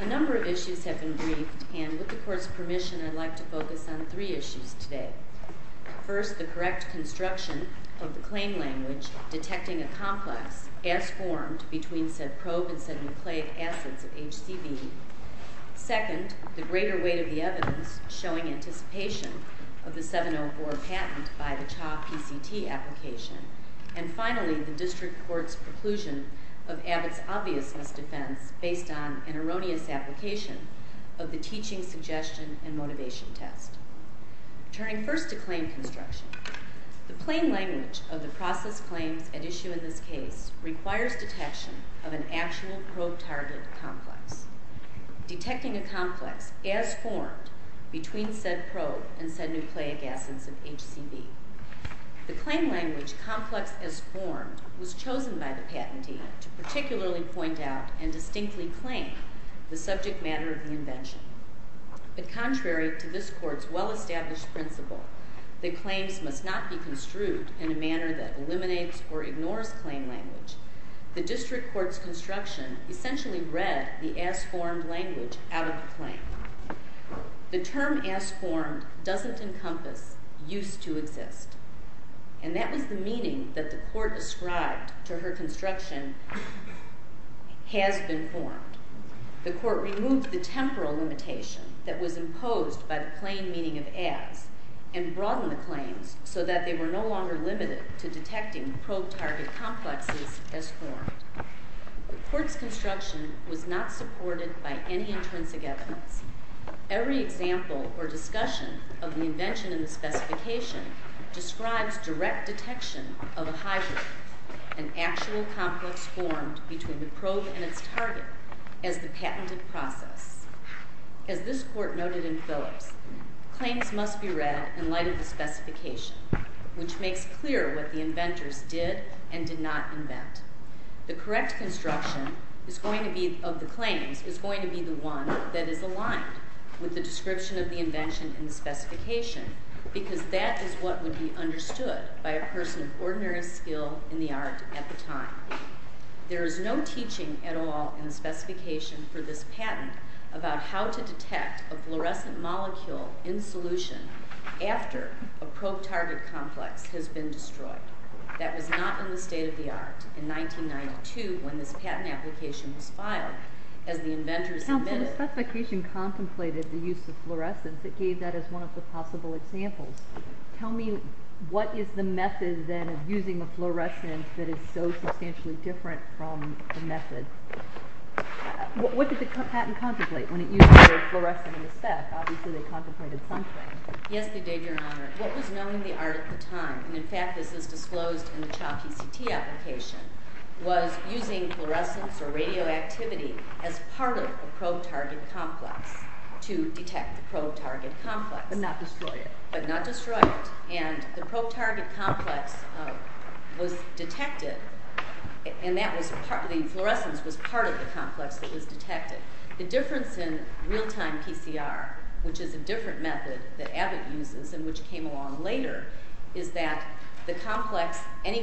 A number of issues have been briefed, and with the Court's permission, I'd like to focus on three issues today. First, the correct construction of the claim language detecting a complex as formed between said probe and said nucleic acids of HCV. Second, the greater weight of the evidence showing anticipation of the 704 patent by the CHA PCT application. And finally, the District Court's preclusion of Abbott's obviousness defense based on an erroneous application of the teaching suggestion and motivation test. Turning first to claim construction, the plain language of the process claims at issue in this case requires detection of an actual probe target complex. Detecting a complex as formed between said probe and said nucleic acids of HCV. The claim language complex as formed was chosen by the patentee to particularly point out and distinctly claim the subject matter of the invention. But contrary to this Court's well-established principle that claims must not be construed in a manner that eliminates or ignores claim language, the District Court's construction essentially read the as formed language out of the claim. The term as formed doesn't encompass used to exist. And that was the meaning that the Court ascribed to her construction has been formed. The Court removed the temporal limitation that was imposed by the plain meaning of as and broadened the claims so that they were no longer limited to detecting probe target complexes as formed. The Court's construction was not supported by any intrinsic evidence. Every example or discussion of the invention in the specification describes direct detection of a hybrid, an actual complex formed between the probe and its target, as the patented process. As this Court noted in Phillips, claims must be read in light of the specification, which makes clear what the inventors did and did not invent. The correct construction of the claims is going to be the one that is aligned with the description of the invention in the specification because that is what would be understood by a person of ordinary skill in the art at the time. There is no teaching at all in the specification for this patent about how to detect a fluorescent molecule in solution after a probe target complex has been destroyed. That was not in the state of the art in 1992 when this patent application was filed, as the inventors admitted. Counsel, the specification contemplated the use of fluorescence. It gave that as one of the possible examples. Tell me, what is the method then of using the fluorescence that is so substantially different from the method? What did the patent contemplate when it used the word fluorescent in the spec? Obviously they contemplated something. What was known in the art at the time, and in fact this is disclosed in the CHOP PCT application, was using fluorescence or radioactivity as part of the probe target complex to detect the probe target complex. But not destroy it. But not destroy it. And the probe target complex was detected, and the fluorescence was part of the complex that was detected. The difference in real-time PCR, which is a different method that Abbott uses and which came along later, is that any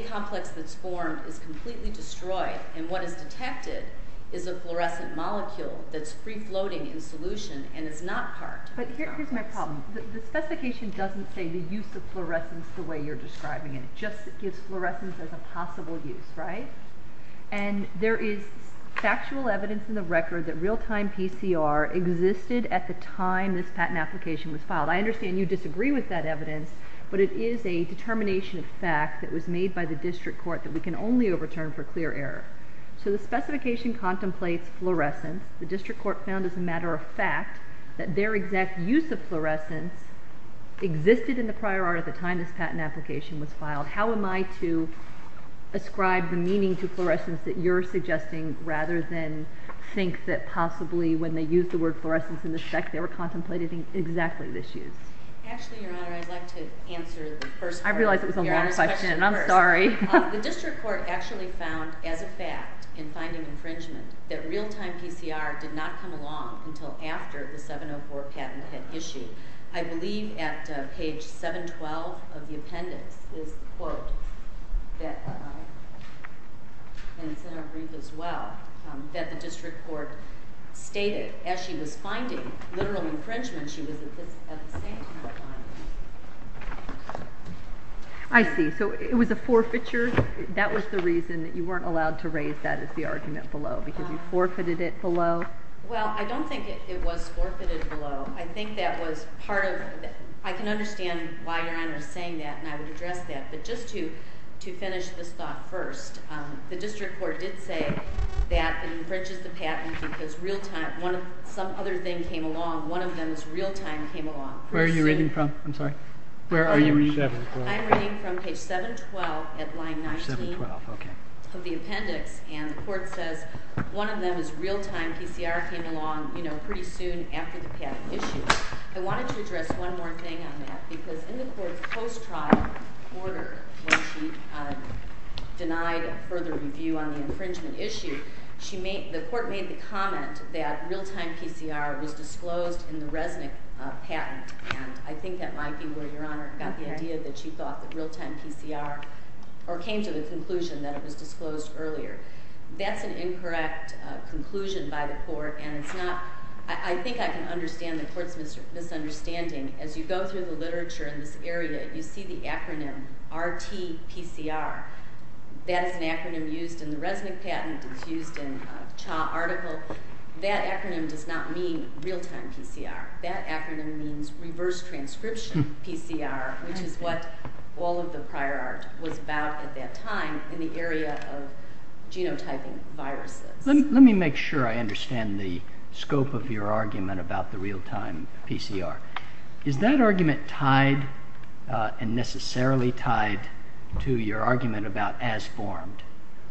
complex that is formed is completely destroyed, and what is detected is a fluorescent molecule that is free-floating in solution and is not part of the complex. But here's my problem. The specification doesn't say the use of fluorescence the way you're describing it. It just gives fluorescence as a possible use, right? And there is factual evidence in the record that real-time PCR existed at the time this patent application was filed. I understand you disagree with that evidence, but it is a determination of fact that was made by the district court that we can only overturn for clear error. So the specification contemplates fluorescence. The district court found as a matter of fact that their exact use of fluorescence existed in the prior art at the time this patent application was filed. How am I to ascribe the meaning to fluorescence that you're suggesting rather than think that possibly when they used the word fluorescence in this fact, they were contemplating exactly this use? Actually, Your Honor, I'd like to answer the first part of Your Honor's question first. I realize it was a long question, and I'm sorry. The district court actually found as a fact in finding infringement that real-time PCR did not come along until after the 704 patent had issued. I believe at page 712 of the appendix is the quote, and it's in our brief as well, that the district court stated as she was finding literal infringement, she was at the same time finding it. I see. So it was a forfeiture. That was the reason that you weren't allowed to raise that as the argument below, because you forfeited it below? Well, I don't think it was forfeited below. I think that was part of it. I can understand why Your Honor is saying that, and I would address that. But just to finish this thought first, the district court did say that it infringes the patent because some other thing came along. One of them is real-time came along. Where are you reading from? I'm sorry. Where are you reading from? I'm reading from page 712 at line 19 of the appendix, and the court says one of them is real-time PCR came along pretty soon after the patent issued. I wanted to address one more thing on that, because in the court's post-trial order, when she denied further review on the infringement issue, the court made the comment that real-time PCR was disclosed in the Resnick patent, and I think that might be where Your Honor got the idea that you thought that real-time PCR, or came to the conclusion that it was disclosed earlier. That's an incorrect conclusion by the court, and I think I can understand the court's misunderstanding. As you go through the literature in this area, you see the acronym RT-PCR. That is an acronym used in the Resnick patent. It's used in a Cha article. That acronym does not mean real-time PCR. That acronym means reverse transcription PCR, which is what all of the prior art was about at that time in the area of genotyping viruses. Let me make sure I understand the scope of your argument about the real-time PCR. Is that argument tied and necessarily tied to your argument about as-formed,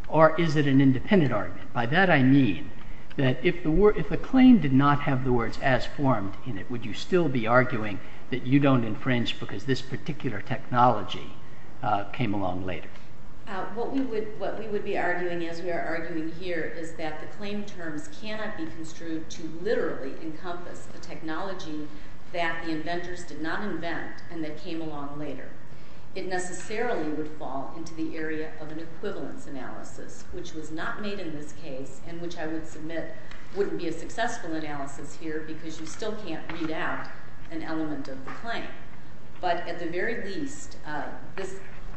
or is it an independent argument? By that I mean that if the claim did not have the words as-formed in it, would you still be arguing that you don't infringe because this particular technology came along later? What we would be arguing as we are arguing here is that the claim terms cannot be construed to literally encompass a technology that the inventors did not invent and that came along later. It necessarily would fall into the area of an equivalence analysis, which was not made in this case and which I would submit wouldn't be a successful analysis here because you still can't read out an element of the claim. But at the very least,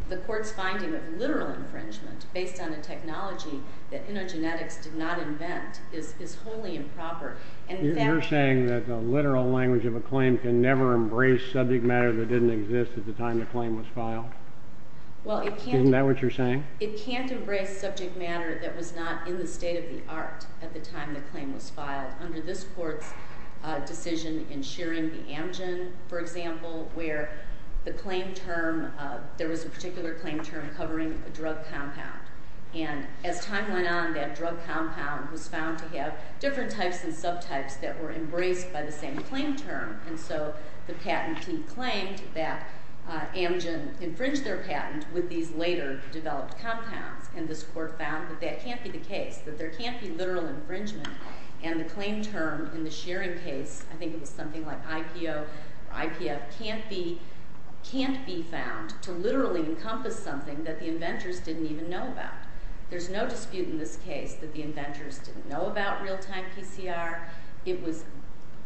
the court's finding of literal infringement based on a technology that innogenetics did not invent is wholly improper. You're saying that the literal language of a claim can never embrace subject matter that didn't exist at the time the claim was filed? Well, it can't. Isn't that what you're saying? It can't embrace subject matter that was not in the state of the art at the time the claim was filed under this court's decision in sharing the Amgen, for example, where there was a particular claim term covering a drug compound. And as time went on, that drug compound was found to have different types and subtypes that were embraced by the same claim term. And so the patentee claimed that Amgen infringed their patent with these later developed compounds. And this court found that that can't be the case, that there can't be literal infringement. And the claim term in the sharing case, I think it was something like IPO or IPF, can't be found to literally encompass something that the inventors didn't even know about. There's no dispute in this case that the inventors didn't know about real-time PCR.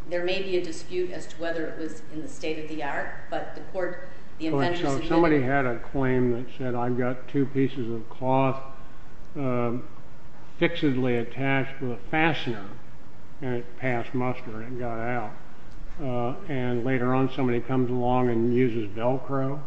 There may be a dispute as to whether it was in the state of the art, but the inventors didn't know. Somebody had a claim that said, I've got two pieces of cloth fixedly attached with a fastener, and it passed muster and got out. And later on, somebody comes along and uses Velcro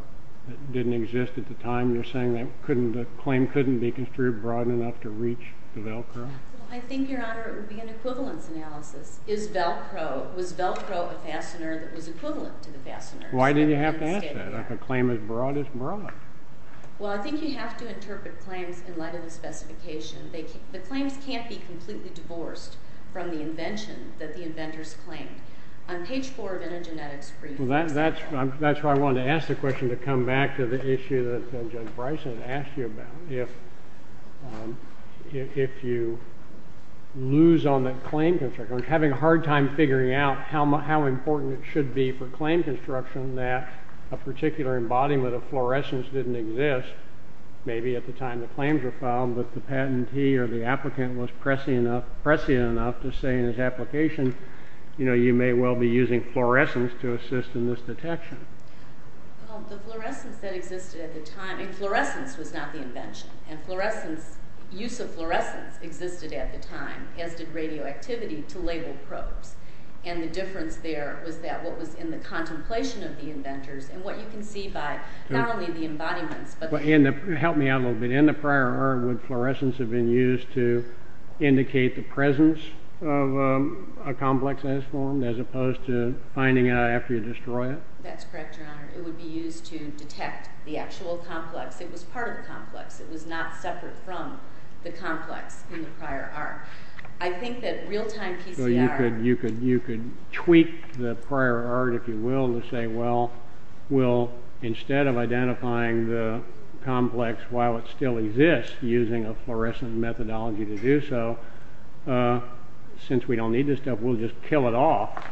that didn't exist at the time. They're saying that the claim couldn't be construed broad enough to reach the Velcro. I think, Your Honor, it would be an equivalence analysis. Was Velcro a fastener that was equivalent to the fastener? Why do you have to ask that? A claim as broad as broad. Well, I think you have to interpret claims in light of the specification. The claims can't be completely divorced from the invention that the inventors claimed. On page four of the genetics brief. That's why I wanted to ask the question to come back to the issue that Judge Bryson asked you about. If you lose on that claim construction, having a hard time figuring out how important it should be for claim construction that a particular embodiment of fluorescence didn't exist, maybe at the time the claims were filed, but the patentee or the applicant was prescient enough to say in his application, you know, you may well be using fluorescence to assist in this detection. Well, the fluorescence that existed at the time, and fluorescence was not the invention, and fluorescence, use of fluorescence existed at the time, as did radioactivity to label probes. And the difference there was that what was in the contemplation of the inventors and what you can see by not only the embodiments. Help me out a little bit. In the prior art, would fluorescence have been used to indicate the presence of a complex as formed, as opposed to finding out after you destroy it? That's correct, Your Honor. It would be used to detect the actual complex. It was part of the complex. It was not separate from the complex in the prior art. I think that real-time PCR. You could tweak the prior art, if you will, to say, well, instead of identifying the complex while it still exists using a fluorescent methodology to do so, since we don't need this stuff, we'll just kill it off,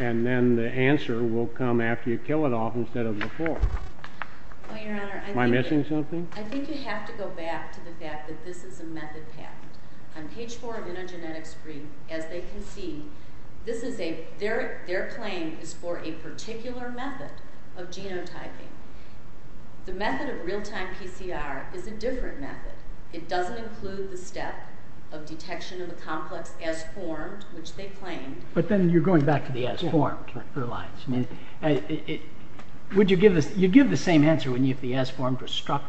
and then the answer will come after you kill it off instead of before. Am I missing something? I think you have to go back to the fact that this is a method patent. On page 4 of Intergenetics brief, as they can see, their claim is for a particular method of genotyping. The method of real-time PCR is a different method. It doesn't include the step of detection of a complex as formed, which they claimed. But then you're going back to the as formed. Correct. Would you give the same answer if the as formed was struck?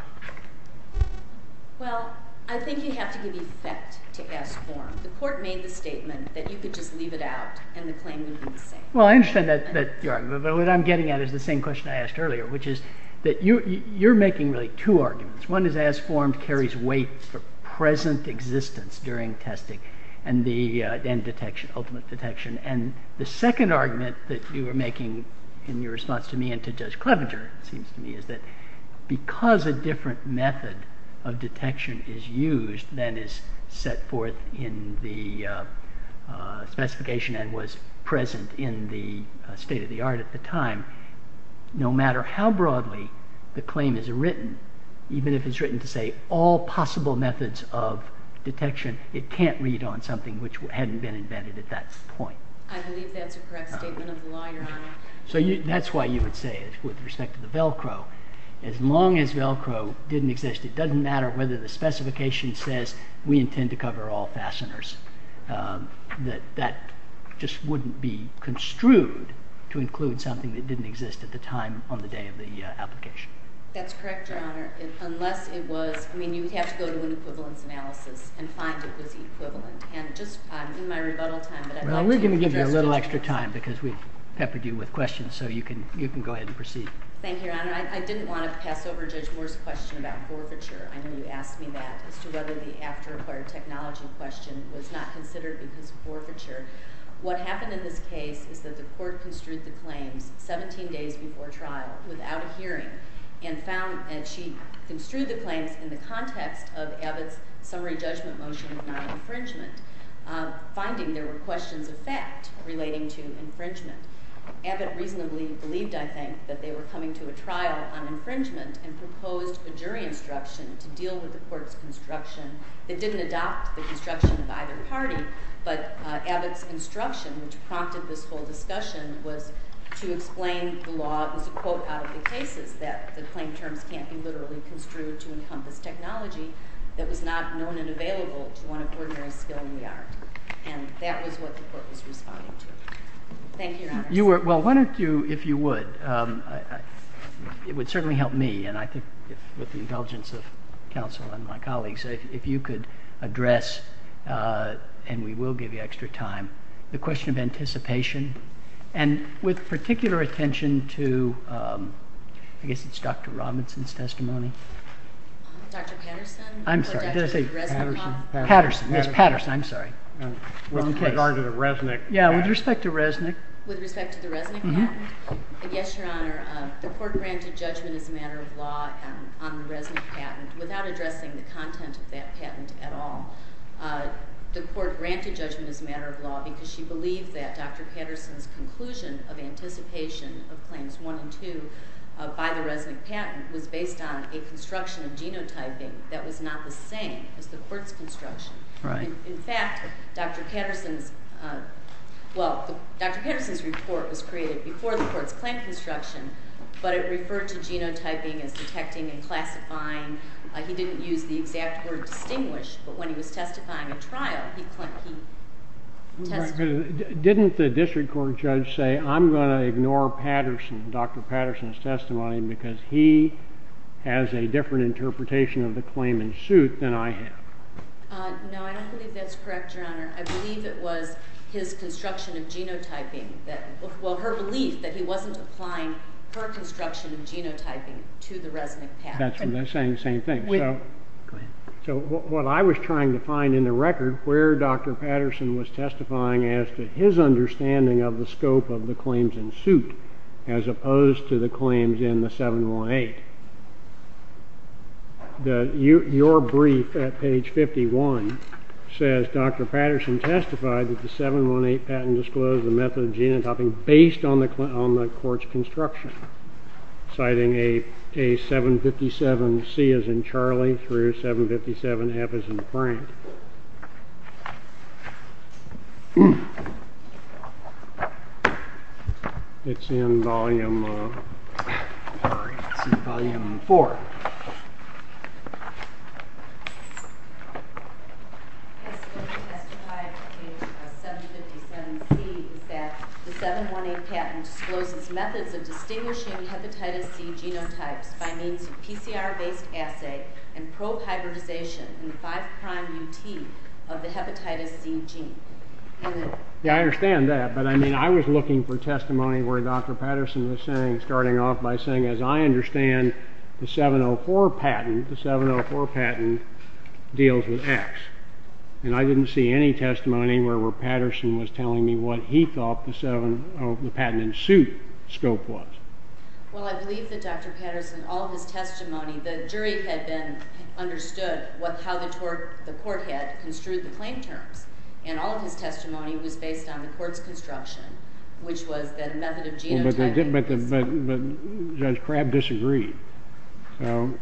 Well, I think you have to give effect to as formed. The court made the statement that you could just leave it out and the claim would be the same. Well, I understand that argument, but what I'm getting at is the same question I asked earlier, which is that you're making really two arguments. One is as formed carries weight for present existence during testing and ultimate detection. And the second argument that you were making in your response to me and to Judge Clevenger, it seems to me, is that because a different method of detection is used than is set forth in the specification and was present in the state of the art at the time, no matter how broadly the claim is written, even if it's written to say all possible methods of detection, it can't read on something which hadn't been invented at that point. I believe that's a correct statement of the law, Your Honor. So that's why you would say it with respect to the Velcro. As long as Velcro didn't exist, it doesn't matter whether the specification says we intend to cover all fasteners. That just wouldn't be construed to include something that didn't exist at the time on the day of the application. That's correct, Your Honor, unless it was... I mean, you would have to go to an equivalence analysis and find if it was equivalent. And just in my rebuttal time... Well, we're going to give you a little extra time because we've peppered you with questions, so you can go ahead and proceed. Thank you, Your Honor. I didn't want to pass over Judge Moore's question about forfeiture. I know you asked me that as to whether the after-acquired technology question was not considered because of forfeiture. What happened in this case is that the court construed the claims 17 days before trial without a hearing and found that she construed the claims in the context of Abbott's summary judgment motion of non-infringement, finding there were questions of fact relating to infringement. Abbott reasonably believed, I think, that they were coming to a trial on infringement and proposed a jury instruction to deal with the court's construction. It didn't adopt the construction of either party, but Abbott's instruction, which prompted this whole discussion, was to explain the law as a quote out of the cases, that the claim terms can't be literally construed to encompass technology that was not known and available to one of ordinary skill in the art. And that was what the court was responding to. Thank you, Your Honor. Well, why don't you, if you would, it would certainly help me, and I think with the indulgence of counsel and my colleagues, if you could address, and we will give you extra time, the question of anticipation, and with particular attention to, I guess it's Dr. Robinson's testimony. Dr. Patterson? I'm sorry, did I say Patterson? Patterson, yes, Patterson, I'm sorry. With regard to the Resnick patent. Yeah, with respect to Resnick. With respect to the Resnick patent? Yes, Your Honor, the court granted judgment as a matter of law on the Resnick patent without addressing the content of that patent at all. The court granted judgment as a matter of law because she believed that Dr. Patterson's conclusion of anticipation of claims one and two by the Resnick patent was based on a construction of genotyping that was not the same as the court's construction. Right. In fact, Dr. Patterson's, well, Dr. Patterson's report was created before the court's claim construction, but it referred to genotyping as detecting and classifying. He didn't use the exact word distinguish, but when he was testifying at trial, he testified. Didn't the district court judge say, I'm going to ignore Patterson, Dr. Patterson's testimony, because he has a different interpretation of the claim in suit than I have? No, I don't believe that's correct, Your Honor. I believe it was his construction of genotyping that, well, her belief that he wasn't applying her construction of genotyping to the Resnick patent. That's what I'm saying, same thing. So what I was trying to find in the record where Dr. Patterson was testifying as to his understanding of the scope of the claims in suit as opposed to the claims in the 718, your brief at page 51 says Dr. Patterson testified that the 718 patent disclosed the method of genotyping based on the court's construction, citing a 757C as in Charlie through 757F as in Frank. It's in volume 4. He testified at 757C that the 718 patent discloses methods of distinguishing hepatitis C genotypes by means of PCR-based assay and probe hybridization in the 5'UT of the hepatitis C gene. Yeah, I understand that, but I mean, I was looking for testimony where Dr. Patterson was saying, starting off by saying, as I understand the 704 patent, the 704 patent deals with X, and I didn't see any testimony where Patterson was telling me what he thought the patent in suit scope was. Well, I believe that Dr. Patterson, all of his testimony, the jury had understood how the court had construed the claim terms, and all of his testimony was based on the court's construction, which was the method of genotyping. But Judge Crabb disagreed.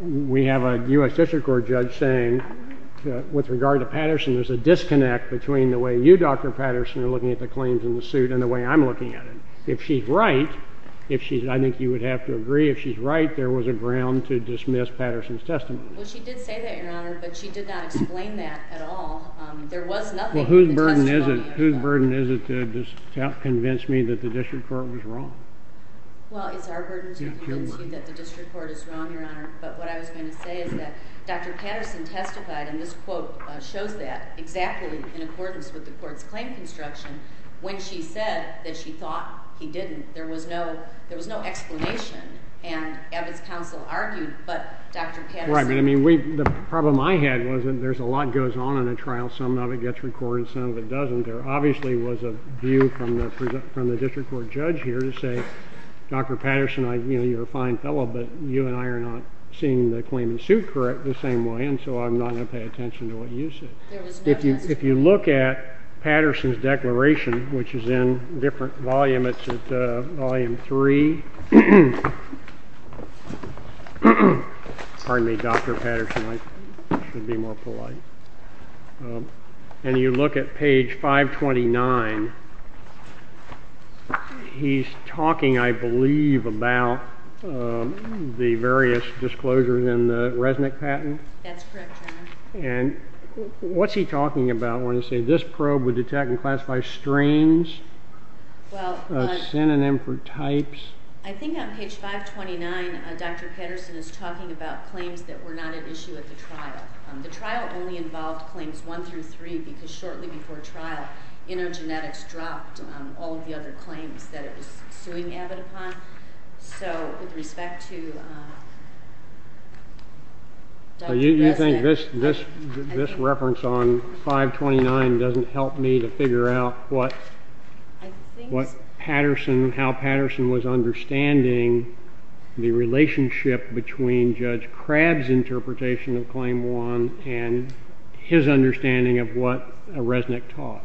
We have a U.S. District Court judge saying, with regard to Patterson, there's a disconnect between the way you, Dr. Patterson, are looking at the claims in the suit and the way I'm looking at it. If she's right, I think you would have to agree, if she's right, there was a ground to dismiss Patterson's testimony. Well, she did say that, Your Honor, but she did not explain that at all. There was nothing in the testimony. Well, whose burden is it to convince me that the District Court was wrong? Well, it's our burden to convince you that the District Court is wrong, Your Honor. But what I was going to say is that Dr. Patterson testified, and this quote shows that exactly in accordance with the court's claim construction, when she said that she thought he didn't, there was no explanation. And Evett's counsel argued, but Dr. Patterson... Right, but, I mean, the problem I had was that there's a lot that goes on in a trial. Some of it gets recorded, some of it doesn't. There obviously was a view from the District Court judge here to say, Dr. Patterson, you know, you're a fine fellow, but you and I are not seeing the claim in suit correct the same way, and so I'm not going to pay attention to what you say. If you look at Patterson's declaration, which is in a different volume, it's at Volume 3. Pardon me, Dr. Patterson, I should be more polite. And you look at page 529, he's talking, I believe, about the various disclosures in the Resnick patent. That's correct, Your Honor. And what's he talking about when he says, this probe would detect and classify strains, a synonym for types? I think on page 529, Dr. Patterson is talking about claims that were not an issue at the trial. The trial only involved claims 1 through 3, because shortly before trial, Intergenetics dropped all of the other claims that it was suing Evett upon. So with respect to Dr. Resnick... You think this reference on 529 doesn't help me to figure out what Patterson, how Patterson was understanding the relationship between Judge Crabb's interpretation of Claim 1 and his understanding of what Resnick taught?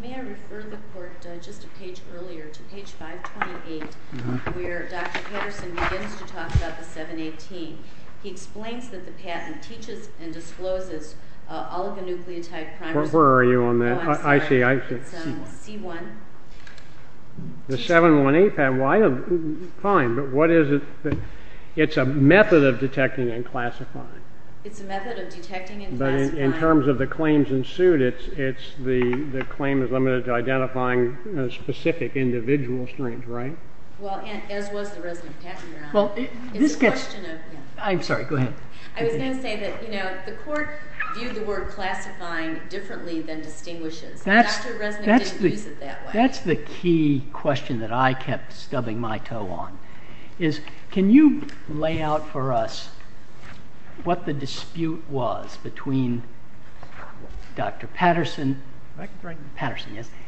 May I refer the Court just a page earlier to page 528, where Dr. Patterson begins to talk about the 718? He explains that the patent teaches and discloses oligonucleotide... Where are you on that? I see, I see. It's C1. The 718 patent, fine, but what is it? It's a method of detecting and classifying. It's a method of detecting and classifying. But in terms of the claims ensued, the claim is limited to identifying specific individual strains, right? Well, as was the Resnick patent, Your Honor. It's a question of... I'm sorry, go ahead. I was going to say that the Court viewed the word classifying differently than distinguishes. Dr. Resnick didn't use it that way. That's the key question that I kept stubbing my toe on, is can you lay out for us what the dispute was between Dr. Patterson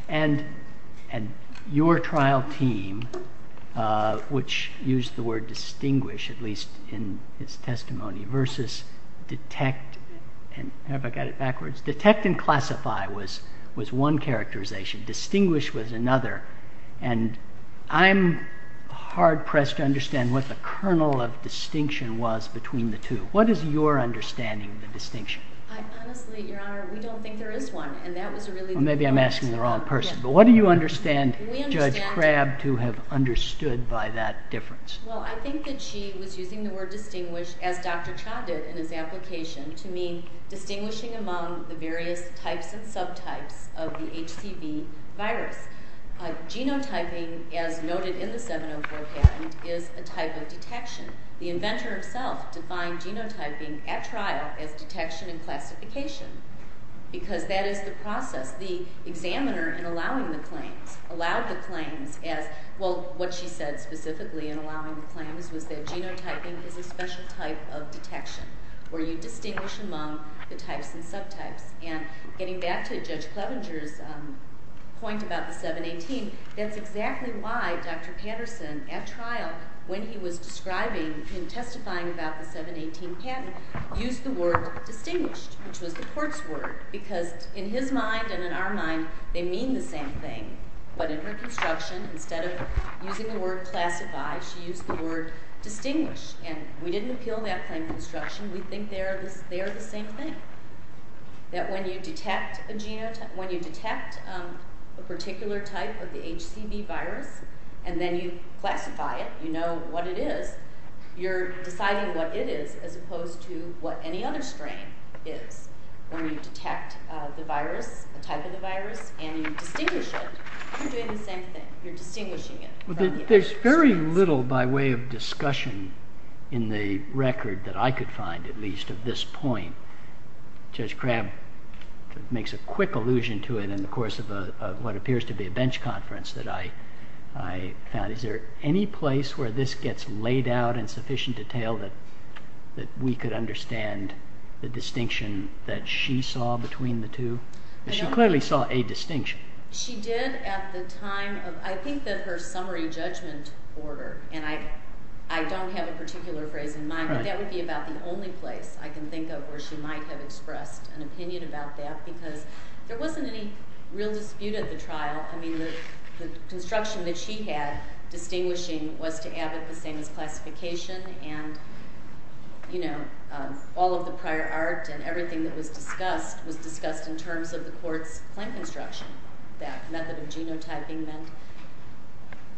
and your trial team, which used the word distinguish, at least in his testimony, versus detect and... have I got it backwards? Detect and classify was one characterization. Distinguish was another. And I'm hard-pressed to understand what the kernel of distinction was between the two. What is your understanding of the distinction? Honestly, Your Honor, we don't think there is one. Maybe I'm asking the wrong person. But what do you understand Judge Crabb to have understood by that difference? Well, I think that she was using the word distinguish, as Dr. Cha did in his application, to mean distinguishing among the various types and subtypes of the HCV virus. Genotyping, as noted in the 704 patent, is a type of detection. The inventor himself defined genotyping at trial as detection and classification because that is the process. The examiner, in allowing the claims, allowed the claims as... Well, what she said specifically in allowing the claims was that genotyping is a special type of detection where you distinguish among the types and subtypes. And getting back to Judge Clevenger's point about the 718, that's exactly why Dr. Patterson, at trial, when he was describing and testifying about the 718 patent, used the word distinguished, which was the court's word, because in his mind and in our mind they mean the same thing. But in her construction, instead of using the word classify, she used the word distinguish. And we didn't appeal that claim in construction. We think they are the same thing, that when you detect a particular type of the HCV virus and then you classify it, you know what it is, you're deciding what it is as opposed to what any other strain is. When you detect the virus, the type of the virus, and you distinguish it, you're doing the same thing. You're distinguishing it from the other strains. There's very little by way of discussion in the record, that I could find at least, of this point. Judge Crabb makes a quick allusion to it in the course of what appears to be a bench conference that I found. Is there any place where this gets laid out in sufficient detail that we could understand the distinction that she saw between the two? She clearly saw a distinction. She did at the time of, I think that her summary judgment order, and I don't have a particular phrase in mind, but that would be about the only place I can think of where she might have expressed an opinion about that, because there wasn't any real dispute at the trial. The construction that she had, distinguishing, was to Abbott the same as classification, and all of the prior art and everything that was discussed was discussed in terms of the court's claim construction. That method of genotyping meant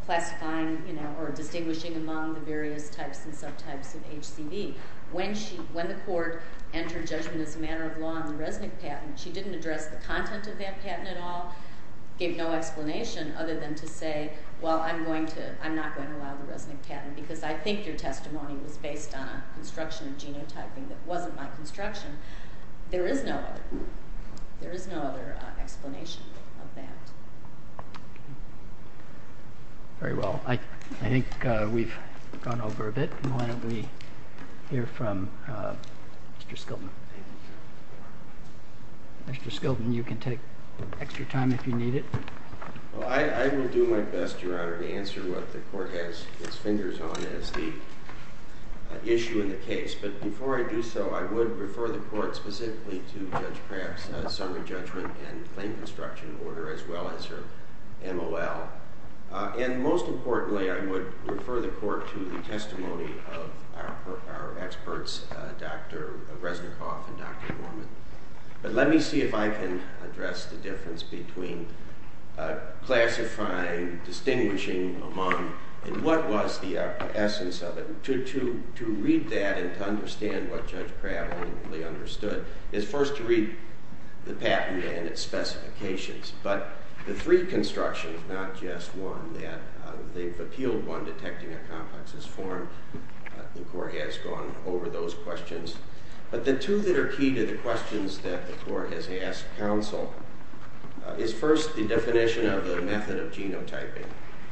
classifying or distinguishing among the various types and subtypes of HCV. When the court entered judgment as a matter of law on the Resnick patent, she didn't address the content of that patent at all, gave no explanation other than to say, well, I'm not going to allow the Resnick patent because I think your testimony was based on a construction of genotyping that wasn't my construction. There is no other explanation of that. Very well. I think we've gone over a bit. Why don't we hear from Mr. Skilton. Mr. Skilton, you can take extra time if you need it. Well, I will do my best, Your Honor, to answer what the court has its fingers on as the issue in the case. But before I do so, I would refer the court specifically to Judge Kraft's summary judgment and claim construction order, as well as her MOL. And most importantly, I would refer the court to the testimony of our experts, Dr. Resnickoff and Dr. Norman. But let me see if I can address the difference between classifying, distinguishing among, and what was the essence of it. To read that and to understand what Judge Kraft ultimately understood is first to read the patent and its specifications. But the three constructions, not just one, they've appealed one, detecting a complex's form. The court has gone over those questions. But the two that are key to the questions that the court has asked counsel is first the definition of the method of genotyping.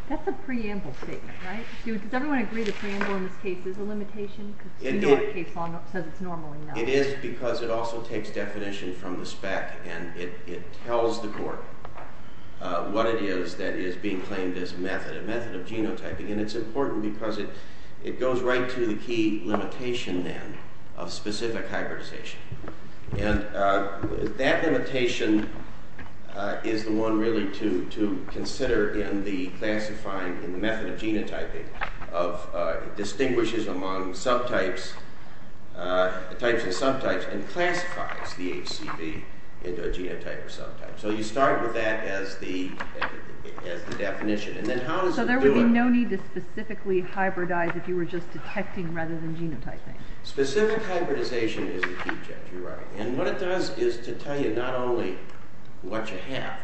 That's a preamble statement, right? Does everyone agree the preamble in this case is a limitation? You know the case law says it's normally not. It is because it also takes definition from the spec and it tells the court what it is that is being claimed as a method, a method of genotyping. And it's important because it goes right to the key limitation then of specific hybridization. And that limitation is the one really to consider in the classifying in the method of genotyping of distinguishes among subtypes, types and subtypes, and classifies the HCV into a genotype or subtype. So you start with that as the definition. And then how does it do it? So there would be no need to specifically hybridize if you were just detecting rather than genotyping. Specific hybridization is the key, Jeff. You're right. And what it does is to tell you not only what you have,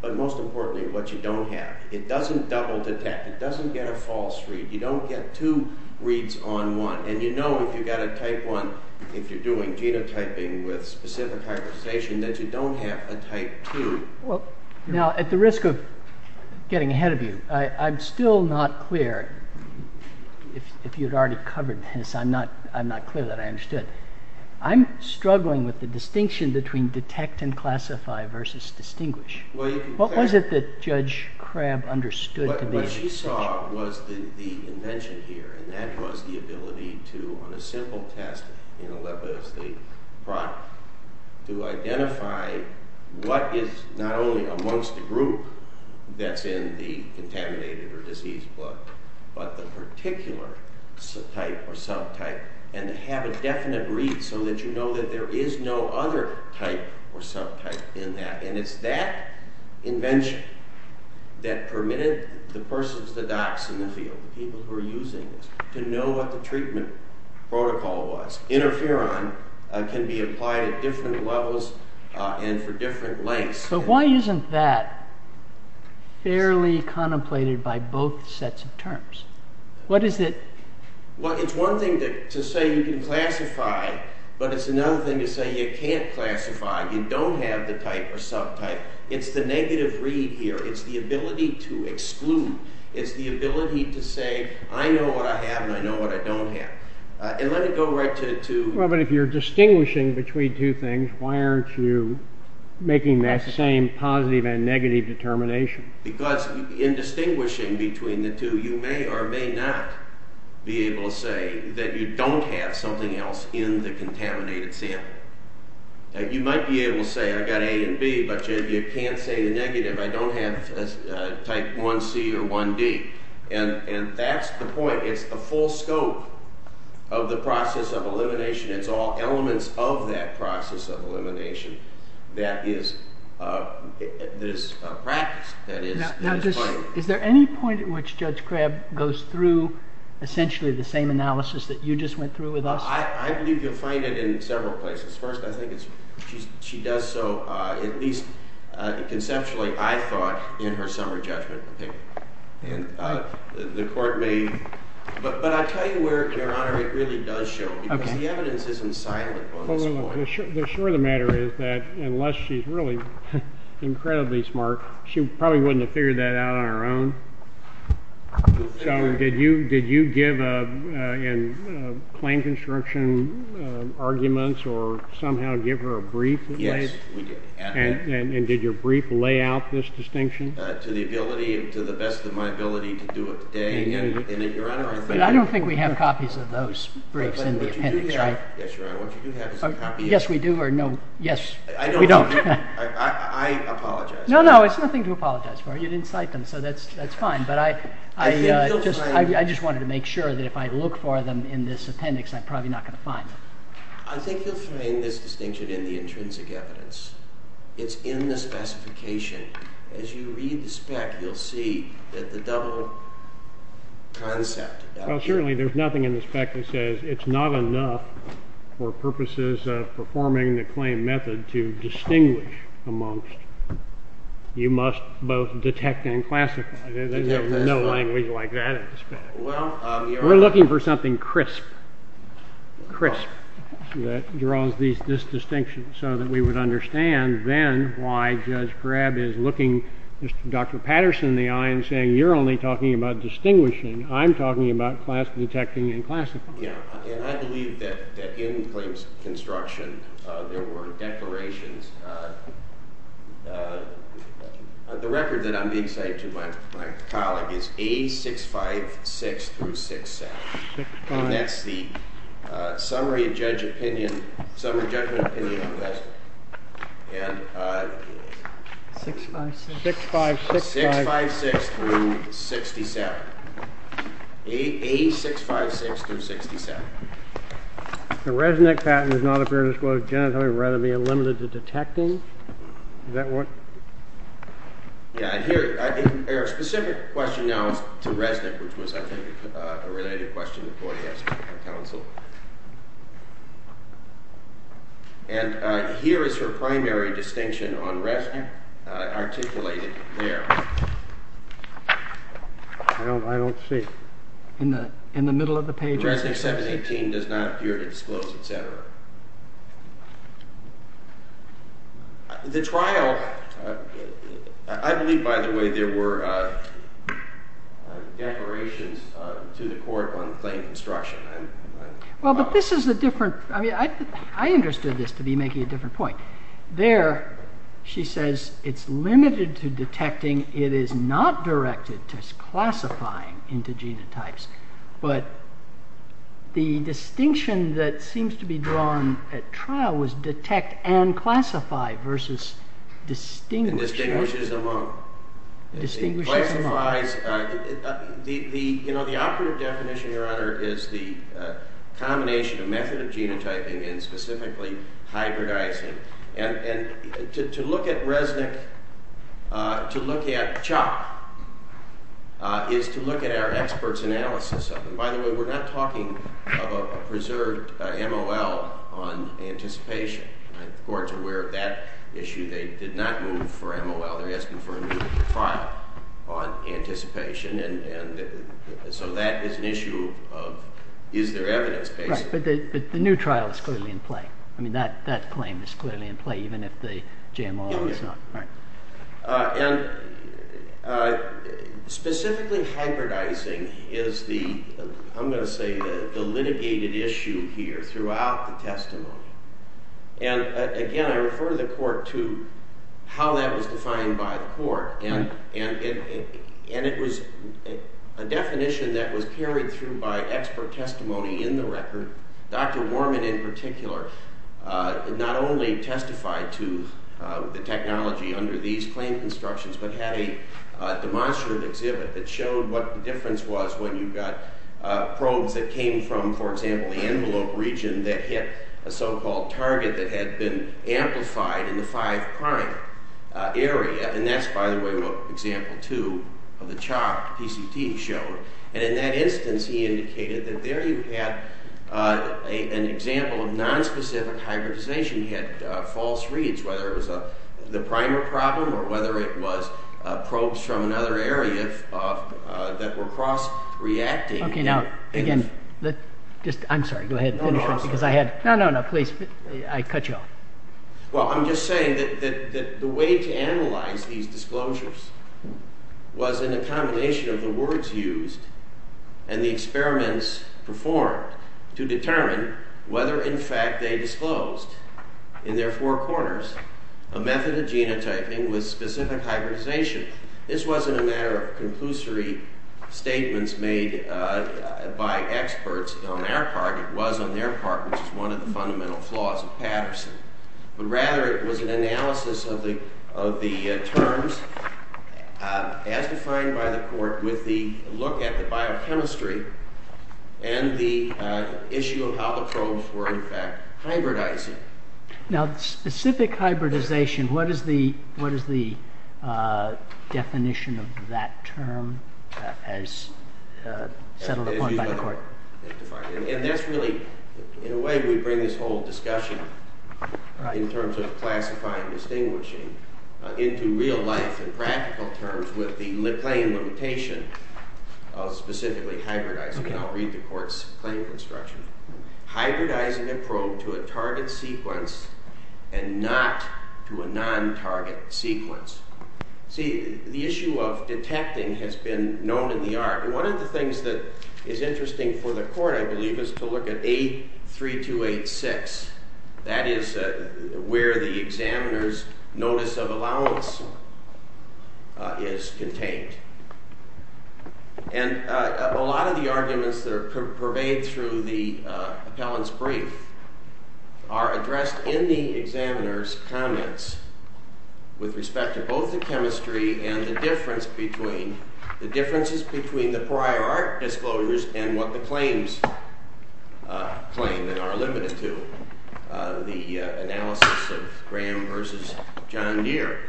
but most importantly what you don't have. It doesn't double detect. It doesn't get a false read. You don't get two reads on one. And you know if you've got a type 1, if you're doing genotyping with specific hybridization, that you don't have a type 2. Now, at the risk of getting ahead of you, I'm still not clear, if you'd already covered this, I'm not clear that I understood. I'm struggling with the distinction between detect and classify versus distinguish. What was it that Judge Crabb understood to be distinguish? What she saw was the invention here, and that was the ability to, on a simple test, to identify what is not only amongst the group that's in the contaminated or diseased blood, but the particular subtype or subtype, and to have a definite read so that you know that there is no other type or subtype in that. And it's that invention that permitted the persons, the docs in the field, the people who are using this, to know what the treatment protocol was. Interferon can be applied at different levels and for different lengths. But why isn't that fairly contemplated by both sets of terms? What is it? Well, it's one thing to say you can classify, but it's another thing to say you can't classify, you don't have the type or subtype. It's the negative read here. It's the ability to exclude. It's the ability to say, I know what I have and I know what I don't have. And let me go right to... Well, but if you're distinguishing between two things, why aren't you making that same positive and negative determination? Because in distinguishing between the two, you may or may not be able to say that you don't have something else in the contaminated sample. You might be able to say, I've got A and B, but you can't say the negative. I don't have type 1C or 1D. And that's the point. It's the full scope of the process of elimination. It's all elements of that process of elimination that is practiced. Is there any point at which Judge Crabb goes through essentially the same analysis that you just went through with us? I believe you'll find it in several places. First, I think she does so at least conceptually. I thought in her summer judgment opinion. And the court may... But I'll tell you where, Your Honor, it really does show. Because the evidence isn't silent on this point. No, no, no. Sure the matter is that unless she's really incredibly smart, she probably wouldn't have figured that out on her own. So did you give a claim construction arguments or somehow give her a brief? Yes, we did. And did your brief lay out this distinction? To the best of my ability to do it today. But I don't think we have copies of those briefs in the appendix. Yes, Your Honor, what you do have is a copy. Yes, we do. Or no, yes, we don't. I apologize. No, no, it's nothing to apologize for. You didn't cite them, so that's fine. But I just wanted to make sure that if I look for them in this appendix, I'm probably not going to find them. I think you'll find this distinction in the intrinsic evidence. It's in the specification. As you read the spec, you'll see that the double concept. Well, certainly there's nothing in the spec that says it's not enough for purposes of performing the claim method to distinguish amongst. You must both detect and classify. There's no language like that in the spec. Well, Your Honor. We're looking for something crisp. Crisp that draws this distinction so that we would understand then why Judge Krabb is looking Dr. Patterson in the eye and saying, you're only talking about distinguishing. I'm talking about class detecting and classifying. Yeah, and I believe that in claims construction there were declarations. The record that I'm being cited to by my colleague is A656 through 67. And that's the summary of judgment opinion on this. 656. 656 through 67. A656 through 67. The Resnick patent does not appear to disclose genitalia rather being limited to detecting. Is that what? Yeah, here. Our specific question now is to Resnick, which was, I think, a related question before he asked for counsel. And here is her primary distinction on Resnick articulated there. I don't see it. In the middle of the page? Resnick 718 does not appear to disclose, et cetera. The trial, I believe, by the way, there were declarations to the court on claim construction. Well, but this is a different – I mean, I understood this to be making a different point. There she says it's limited to detecting. It is not directed to classifying into genotypes. But the distinction that seems to be drawn at trial was detect and classify versus distinguish. And distinguish is among. Distinguish is among. The operative definition, Your Honor, is the combination of method of genotyping and specifically hybridizing. And to look at Resnick, to look at CHOP, is to look at our experts' analysis of it. By the way, we're not talking of a preserved MOL on anticipation. The court's aware of that issue. They did not move for MOL. They're asking for a new trial on anticipation. And so that is an issue of is there evidence, basically. Right, but the new trial is clearly in play. I mean, that claim is clearly in play even if the GMO is not. And specifically hybridizing is the, I'm going to say, the litigated issue here throughout the testimony. And again, I refer to the court to how that was defined by the court. And it was a definition that was carried through by expert testimony in the record. Dr. Warman in particular not only testified to the technology under these claim constructions but had a demonstrative exhibit that showed what the difference was when you got probes that came from, for example, the envelope region that hit a so-called target that had been amplified in the five-prime area. And that's, by the way, what Example 2 of the CHOP PCT showed. And in that instance, he indicated that there you had an example of nonspecific hybridization. You had false reads, whether it was the primer problem or whether it was probes from another area that were cross-reacting. Okay, now, again, I'm sorry, go ahead. No, no, I'll stop. No, no, no, please, I cut you off. Well, I'm just saying that the way to analyze these disclosures was in a combination of the words used and the experiments performed to determine whether, in fact, they disclosed in their four corners a method of genotyping with specific hybridization. This wasn't a matter of conclusory statements made by experts on our part. It was on their part, which is one of the fundamental flaws of Patterson. But rather, it was an analysis of the terms as defined by the court with the look at the biochemistry and the issue of how the probes were, in fact, hybridizing. Now, specific hybridization, what is the definition of that term as settled upon by the court? And that's really, in a way, we bring this whole discussion in terms of classifying and distinguishing into real life and practical terms with the claim limitation of specifically hybridizing. And I'll read the court's claim construction. Hybridizing a probe to a target sequence and not to a non-target sequence. See, the issue of detecting has been known in the art. One of the things that is interesting for the court, I believe, is to look at 8.3286. That is where the examiner's notice of allowance is contained. And a lot of the arguments that are purveyed through the appellant's brief are addressed in the examiner's comments with respect to both the chemistry and the differences between the prior art disclosures and what the claims claim that are limited to. The analysis of Graham versus John Deere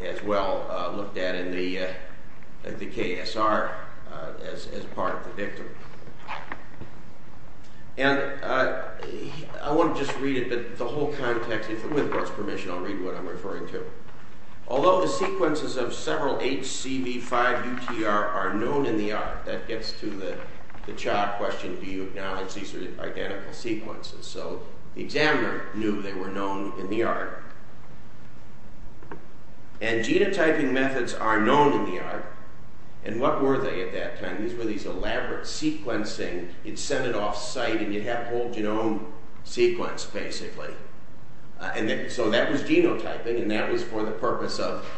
is well looked at in the KSR as part of the victim. And I want to just read a bit of the whole context. With the court's permission, I'll read what I'm referring to. Although the sequences of several HCV5 UTR are known in the art. That gets to the child question, do you acknowledge these are identical sequences? So the examiner knew they were known in the art. And genotyping methods are known in the art. And what were they at that time? These were these elaborate sequencing. You'd send it off site and you'd have a whole genome sequence, basically. So that was genotyping and that was for the purpose of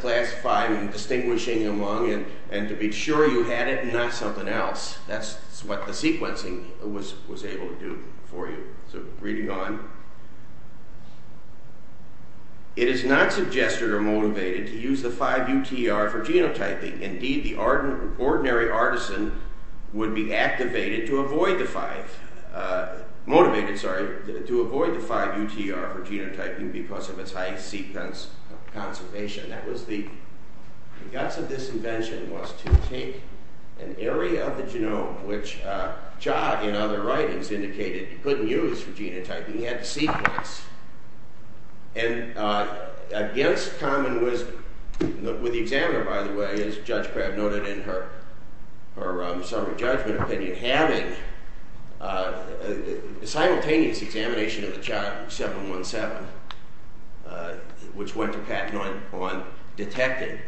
classifying and distinguishing among and to be sure you had it and not something else. That's what the sequencing was able to do for you. So reading on. It is not suggested or motivated to use the 5 UTR for genotyping. Indeed, the ordinary artisan would be motivated to avoid the 5 UTR for genotyping because of its high sequence of conservation. The guts of this invention was to take an area of the genome, which Jot in other writings indicated you couldn't use for genotyping. You had to sequence. And against common wisdom, with the examiner, by the way, as Judge Crabb noted in her summary judgment opinion, having a simultaneous examination of the child, 717, which went to patent on detecting,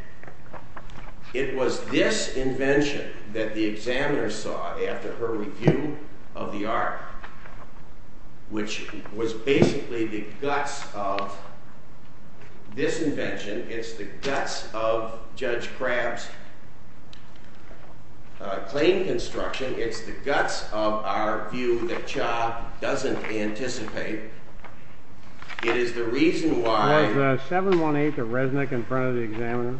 it was this invention that the examiner saw after her review of the art, which was basically the guts of this invention. It's the guts of Judge Crabb's claim construction. It's the guts of our view that Cha doesn't anticipate. It is the reason why. Was 718 the resnick in front of the examiner?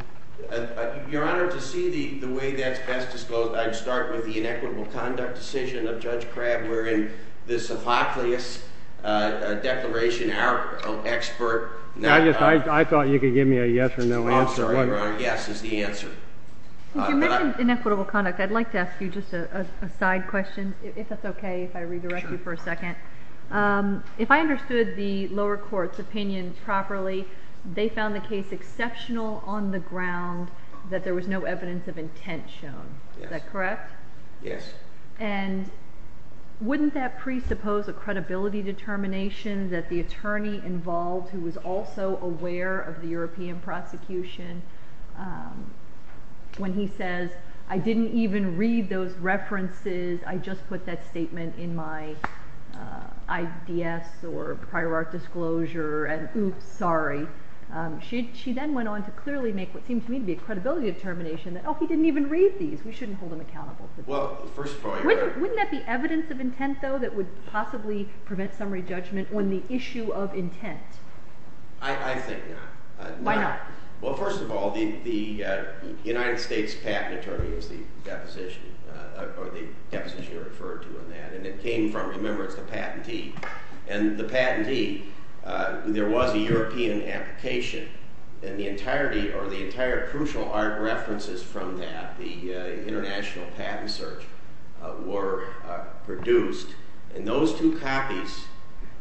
Your Honor, to see the way that's best disclosed, I'd start with the inequitable conduct decision of Judge Crabb wherein this apocalypse declaration, our expert. I thought you could give me a yes or no answer. Yes is the answer. You mentioned inequitable conduct. I'd like to ask you just a side question, if that's okay, if I redirect you for a second. If I understood the lower court's opinion properly, they found the case exceptional on the ground that there was no evidence of intent shown. Is that correct? Yes. And wouldn't that presuppose a credibility determination that the attorney involved, who was also aware of the European prosecution, when he says, I didn't even read those references, I just put that statement in my IDS or prior art disclosure, and oops, sorry. She then went on to clearly make what seemed to me to be a credibility determination that, oh, he didn't even read these, we shouldn't hold him accountable. Wouldn't that be evidence of intent, though, that would possibly prevent summary judgment on the issue of intent? I think not. Why not? Well, first of all, the United States Patent Attorney is the deposition, or the deposition you referred to in that, and it came from, remember, it's the patentee. And the patentee, there was a European application, and the entirety or the entire crucial art references from that, the international patent search, were produced. And those two copies.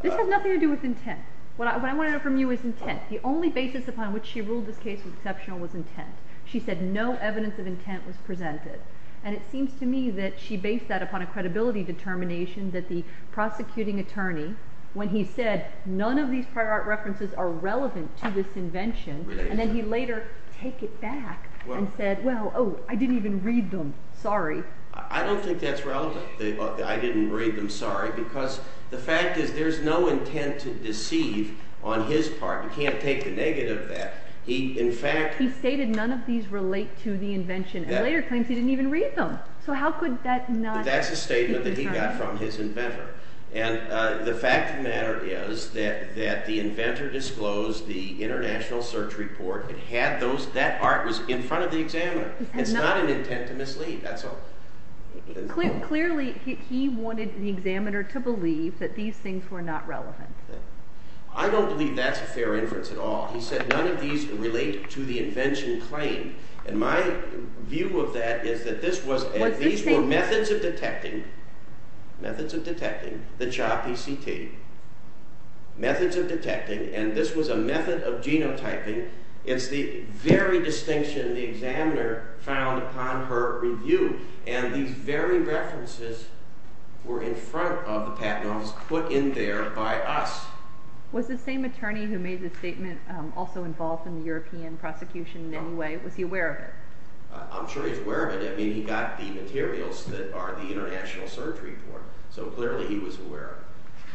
This has nothing to do with intent. What I want to know from you is intent. The only basis upon which she ruled this case was exceptional was intent. She said no evidence of intent was presented. And it seems to me that she based that upon a credibility determination that the prosecuting attorney, when he said none of these prior art references are relevant to this invention, and then he later take it back and said, well, oh, I didn't even read them. Sorry. I don't think that's relevant, the I didn't read them, sorry, because the fact is there's no intent to deceive on his part. You can't take the negative of that. He, in fact. He stated none of these relate to the invention, and later claims he didn't even read them. So how could that not? That's a statement that he got from his inventor. And the fact of the matter is that the inventor disclosed the international search report. It had those. That art was in front of the examiner. It's not an intent to mislead. That's all. Clearly he wanted the examiner to believe that these things were not relevant. I don't believe that's a fair inference at all. He said none of these relate to the invention claim. And my view of that is that this was, and these were methods of detecting, methods of detecting, the CHOPPCT, methods of detecting, and this was a method of genotyping. It's the very distinction the examiner found upon her review. And these very references were in front of the patent office, put in there by us. Was the same attorney who made the statement also involved in the European prosecution in any way? Was he aware of it? I'm sure he's aware of it. I mean, he got the materials that are the international search report. So clearly he was aware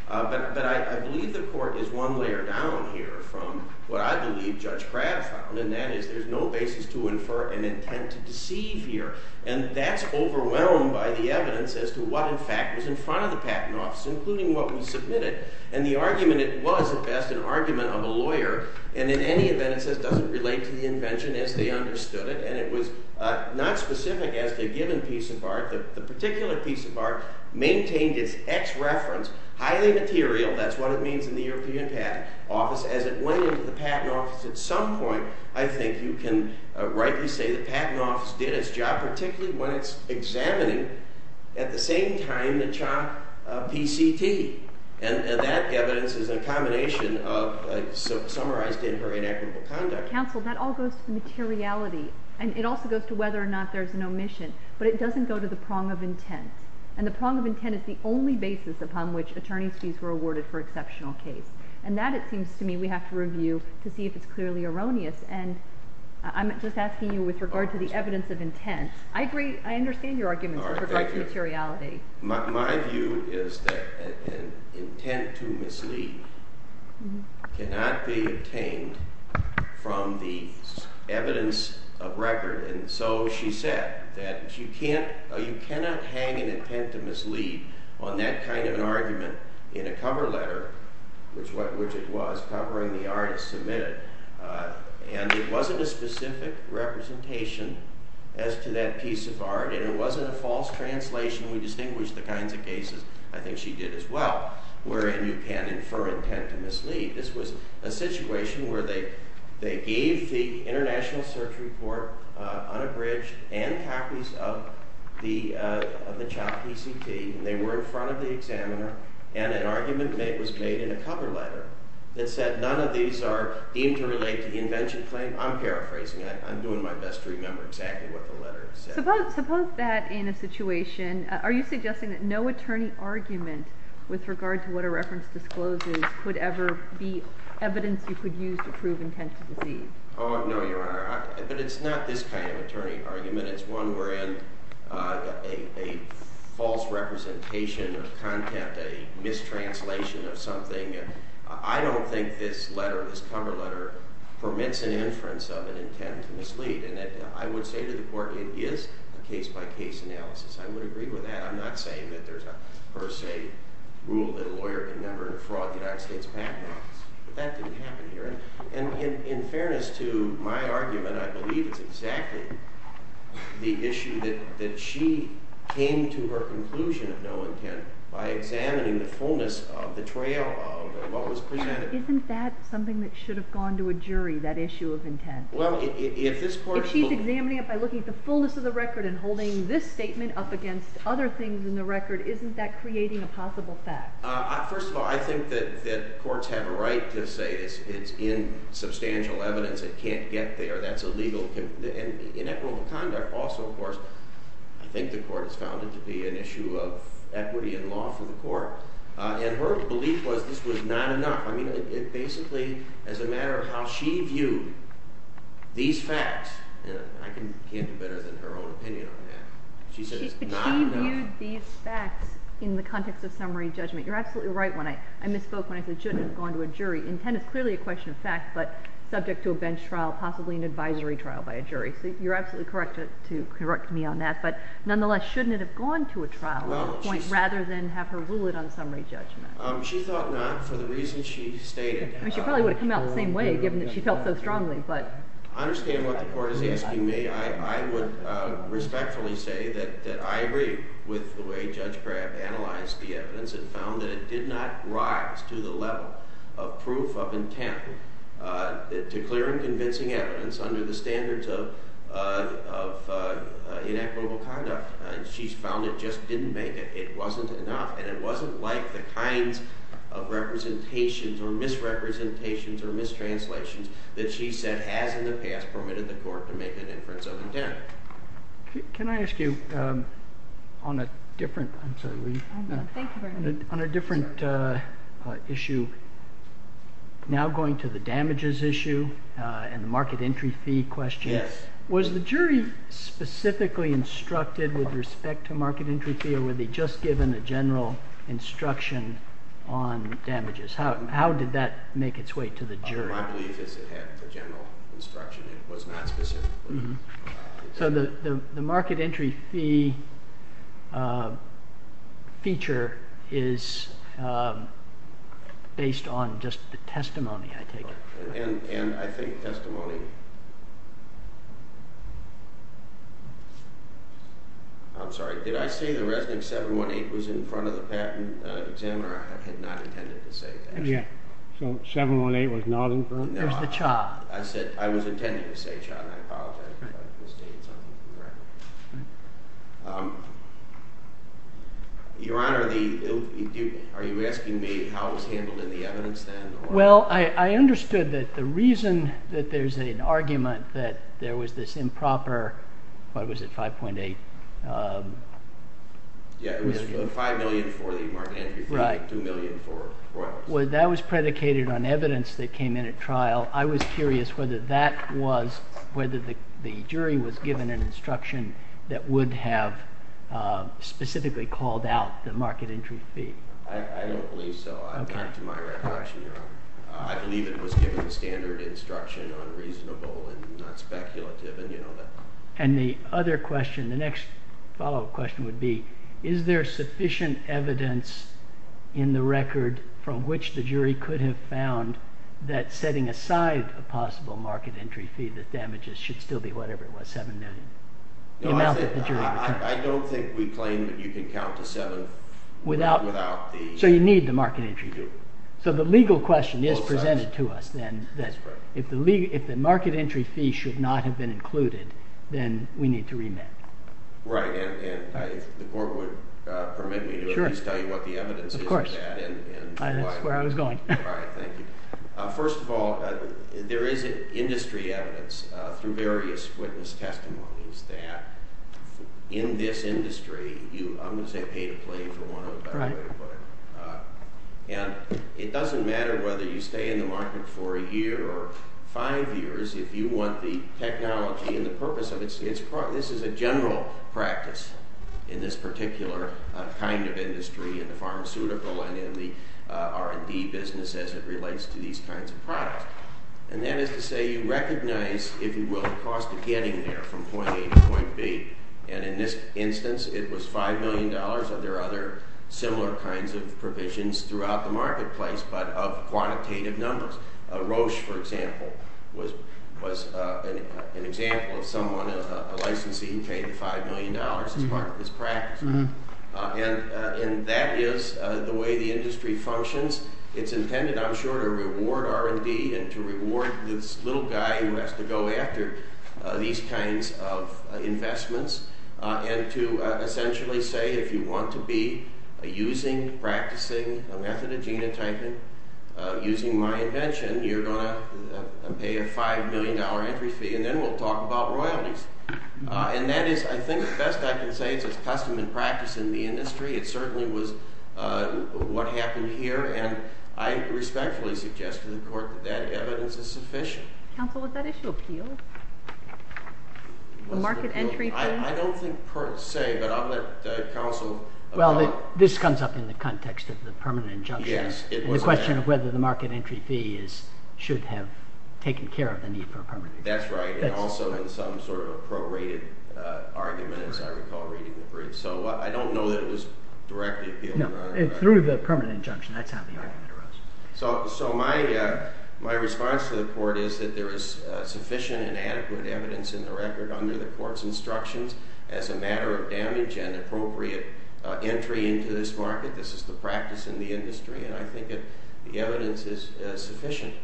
of it. But I believe the court is one layer down here from what I believe Judge Pratt found, and that is there's no basis to infer an intent to deceive here. And that's overwhelmed by the evidence as to what in fact was in front of the patent office, including what we submitted. And the argument, it was at best an argument of a lawyer, and in any event it doesn't relate to the invention as they understood it. And it was not specific as to a given piece of art. The particular piece of art maintained its X reference, highly material. That's what it means in the European patent office. As it went into the patent office at some point, I think you can rightly say the patent office did its job, particularly when it's examining at the same time the CHOP PCT. And that evidence is a combination summarized in her inequitable conduct. Counsel, that all goes to the materiality, and it also goes to whether or not there's an omission. But it doesn't go to the prong of intent. And the prong of intent is the only basis upon which attorney's fees were awarded for exceptional case. And that, it seems to me, we have to review to see if it's clearly erroneous. And I'm just asking you with regard to the evidence of intent. I agree. I understand your arguments with regard to materiality. My view is that an intent to mislead cannot be obtained from the evidence of record. And so she said that you cannot hang an intent to mislead on that kind of an argument in a cover letter, which it was, covering the art it submitted. And it wasn't a specific representation as to that piece of art, and it wasn't a false translation. We distinguish the kinds of cases, I think she did as well, wherein you can infer intent to mislead. This was a situation where they gave the international search report unabridged and copies of the CHOP PCT. And they were in front of the examiner, and an argument was made in a cover letter that said none of these are deemed to relate to the invention claim. I'm paraphrasing. I'm doing my best to remember exactly what the letter said. Suppose that in a situation, are you suggesting that no attorney argument with regard to what a reference discloses could ever be evidence you could use to prove intent to deceive? Oh, no, Your Honor. But it's not this kind of attorney argument. It's one wherein a false representation of content, a mistranslation of something. I don't think this letter, this cover letter, permits an inference of an intent to mislead. And I would say to the court, it is a case-by-case analysis. I would agree with that. I'm not saying that there's a per se rule that a lawyer can never fraud the United States Patent Office. But that didn't happen here. And in fairness to my argument, I believe it's exactly the issue that she came to her conclusion of no intent by examining the fullness of the trail of what was presented. Isn't that something that should have gone to a jury, that issue of intent? If she's examining it by looking at the fullness of the record and holding this statement up against other things in the record, isn't that creating a possible fact? First of all, I think that courts have a right to say it's in substantial evidence. It can't get there. That's illegal. And in equitable conduct also, of course, I think the court has found it to be an issue of equity in law for the court. And her belief was this was not enough. I mean, basically, as a matter of how she viewed these facts, I can't do better than her own opinion on that. She said it's not enough. But she viewed these facts in the context of summary judgment. You're absolutely right when I misspoke when I said it shouldn't have gone to a jury. Intent is clearly a question of fact, but subject to a bench trial, possibly an advisory trial by a jury. So you're absolutely correct to correct me on that. But nonetheless, shouldn't it have gone to a trial point rather than have her rule it on summary judgment? She thought not for the reasons she stated. She probably would have come out the same way given that she felt so strongly. I understand what the court is asking me. I would respectfully say that I agree with the way Judge Graff analyzed the evidence and found that it did not rise to the level of proof of intent to clear and convincing evidence under the standards of inequitable conduct. She found it just didn't make it. It wasn't enough, and it wasn't like the kinds of representations or misrepresentations or mistranslations that she said has in the past permitted the court to make an inference of intent. Can I ask you on a different issue, now going to the damages issue and the market entry fee question? Yes. Was the jury specifically instructed with respect to market entry fee, or were they just given a general instruction on damages? How did that make its way to the jury? My belief is it had a general instruction. It was not specific. So the market entry fee feature is based on just the testimony, I take it. And I think testimony… I'm sorry, did I say the Resnick 718 was in front of the patent examiner? I had not intended to say that. So 718 was not in front? No, I was intending to say Cha, and I apologize if I misstated something. Your Honor, are you asking me how it was handled in the evidence then? Well, I understood that the reason that there's an argument that there was this improper, what was it, 5.8 million? Yeah, it was 5 million for the market entry fee, 2 million for royalties. Well, that was predicated on evidence that came in at trial. I was curious whether the jury was given an instruction that would have specifically called out the market entry fee. I don't believe so, not to my recollection, Your Honor. I believe it was given standard instruction, unreasonable and not speculative. And the other question, the next follow-up question would be, is there sufficient evidence in the record from which the jury could have found that setting aside a possible market entry fee that damages should still be whatever it was, 7 million? No, I don't think we claim that you can count to 7 without the... So you need the market entry fee. So the legal question is presented to us then, that if the market entry fee should not have been included, then we need to remit. Right, and the court would permit me to at least tell you what the evidence is for that. Of course, that's where I was going. All right, thank you. First of all, there is industry evidence through various witness testimonies that in this industry, I'm going to say pay to play, for want of a better way to put it. And it doesn't matter whether you stay in the market for a year or five years, if you want the technology and the purpose of it, this is a general practice in this particular kind of industry, in the pharmaceutical and in the R&D business as it relates to these kinds of products. And that is to say you recognize, if you will, the cost of getting there from point A to point B. And in this instance, it was $5 million. There are other similar kinds of provisions throughout the marketplace, but of quantitative numbers. Roche, for example, was an example of someone, a licensee, who paid $5 million as part of this practice. And that is the way the industry functions. It's intended, I'm sure, to reward R&D and to reward this little guy who has to go after these kinds of investments and to essentially say if you want to be using, practicing a method of genotyping using my invention, you're going to pay a $5 million entry fee, and then we'll talk about royalties. And that is, I think, the best I can say is it's custom and practice in the industry. It certainly was what happened here, and I respectfully suggest to the Court that that evidence is sufficient. Counsel, would that issue appeal? The market entry fee? I don't think per se, but I'll let counsel— Well, this comes up in the context of the permanent injunction. Yes, it does. And the question of whether the market entry fee should have taken care of the need for a permanent injunction. That's right, and also in some sort of prorated argument, as I recall reading the brief. So I don't know that it was directly appealed. No, through the permanent injunction, that's how the argument arose. So my response to the Court is that there is sufficient and adequate evidence in the record under the Court's instructions as a matter of damage and appropriate entry into this market. This is the practice in the industry, and I think that the evidence is sufficient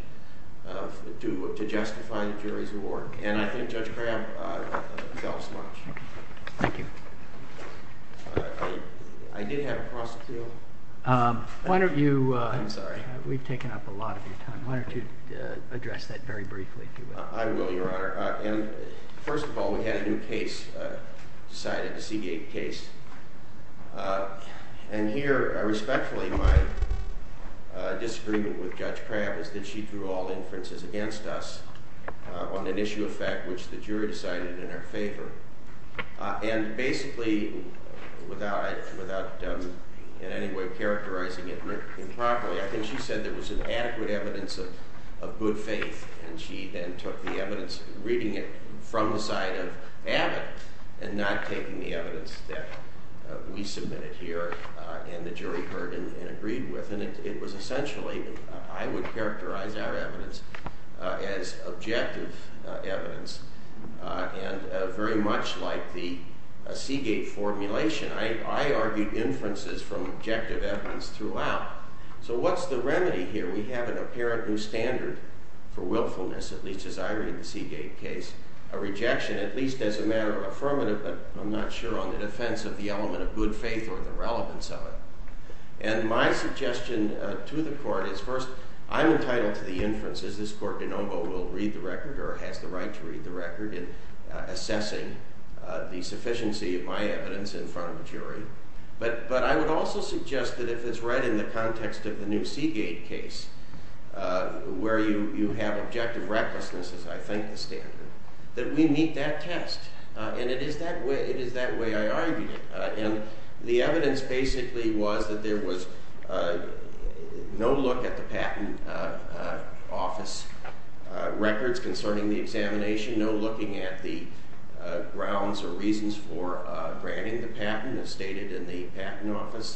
to justify the jury's award. And I think Judge Crabb delves much. Thank you. I did have a cross appeal. Why don't you— I'm sorry. We've taken up a lot of your time. Why don't you address that very briefly, if you will. I will, Your Honor. And first of all, we had a new case decided, a Seagate case. And here, respectfully, my disagreement with Judge Crabb is that she threw all inferences against us on an issue of fact which the jury decided in her favor. And basically, without in any way characterizing it improperly, I think she said there was an adequate evidence of good faith. And she then took the evidence, reading it from the side of Abbott, and not taking the evidence that we submitted here and the jury heard and agreed with. And it was essentially, I would characterize our evidence as objective evidence. And very much like the Seagate formulation, I argued inferences from objective evidence throughout. So what's the remedy here? We have an apparent new standard for willfulness, at least as I read the Seagate case, a rejection, at least as a matter of affirmative, but I'm not sure on the defense of the element of good faith or the relevance of it. And my suggestion to the Court is, first, I'm entitled to the inferences. This Court de novo will read the record or has the right to read the record in assessing the sufficiency of my evidence in front of a jury. But I would also suggest that if it's read in the context of the new Seagate case, where you have objective recklessness, as I think the standard, that we meet that test. And it is that way I argue. And the evidence basically was that there was no look at the patent office records concerning the examination, no looking at the grounds or reasons for granting the patent as stated in the patent office.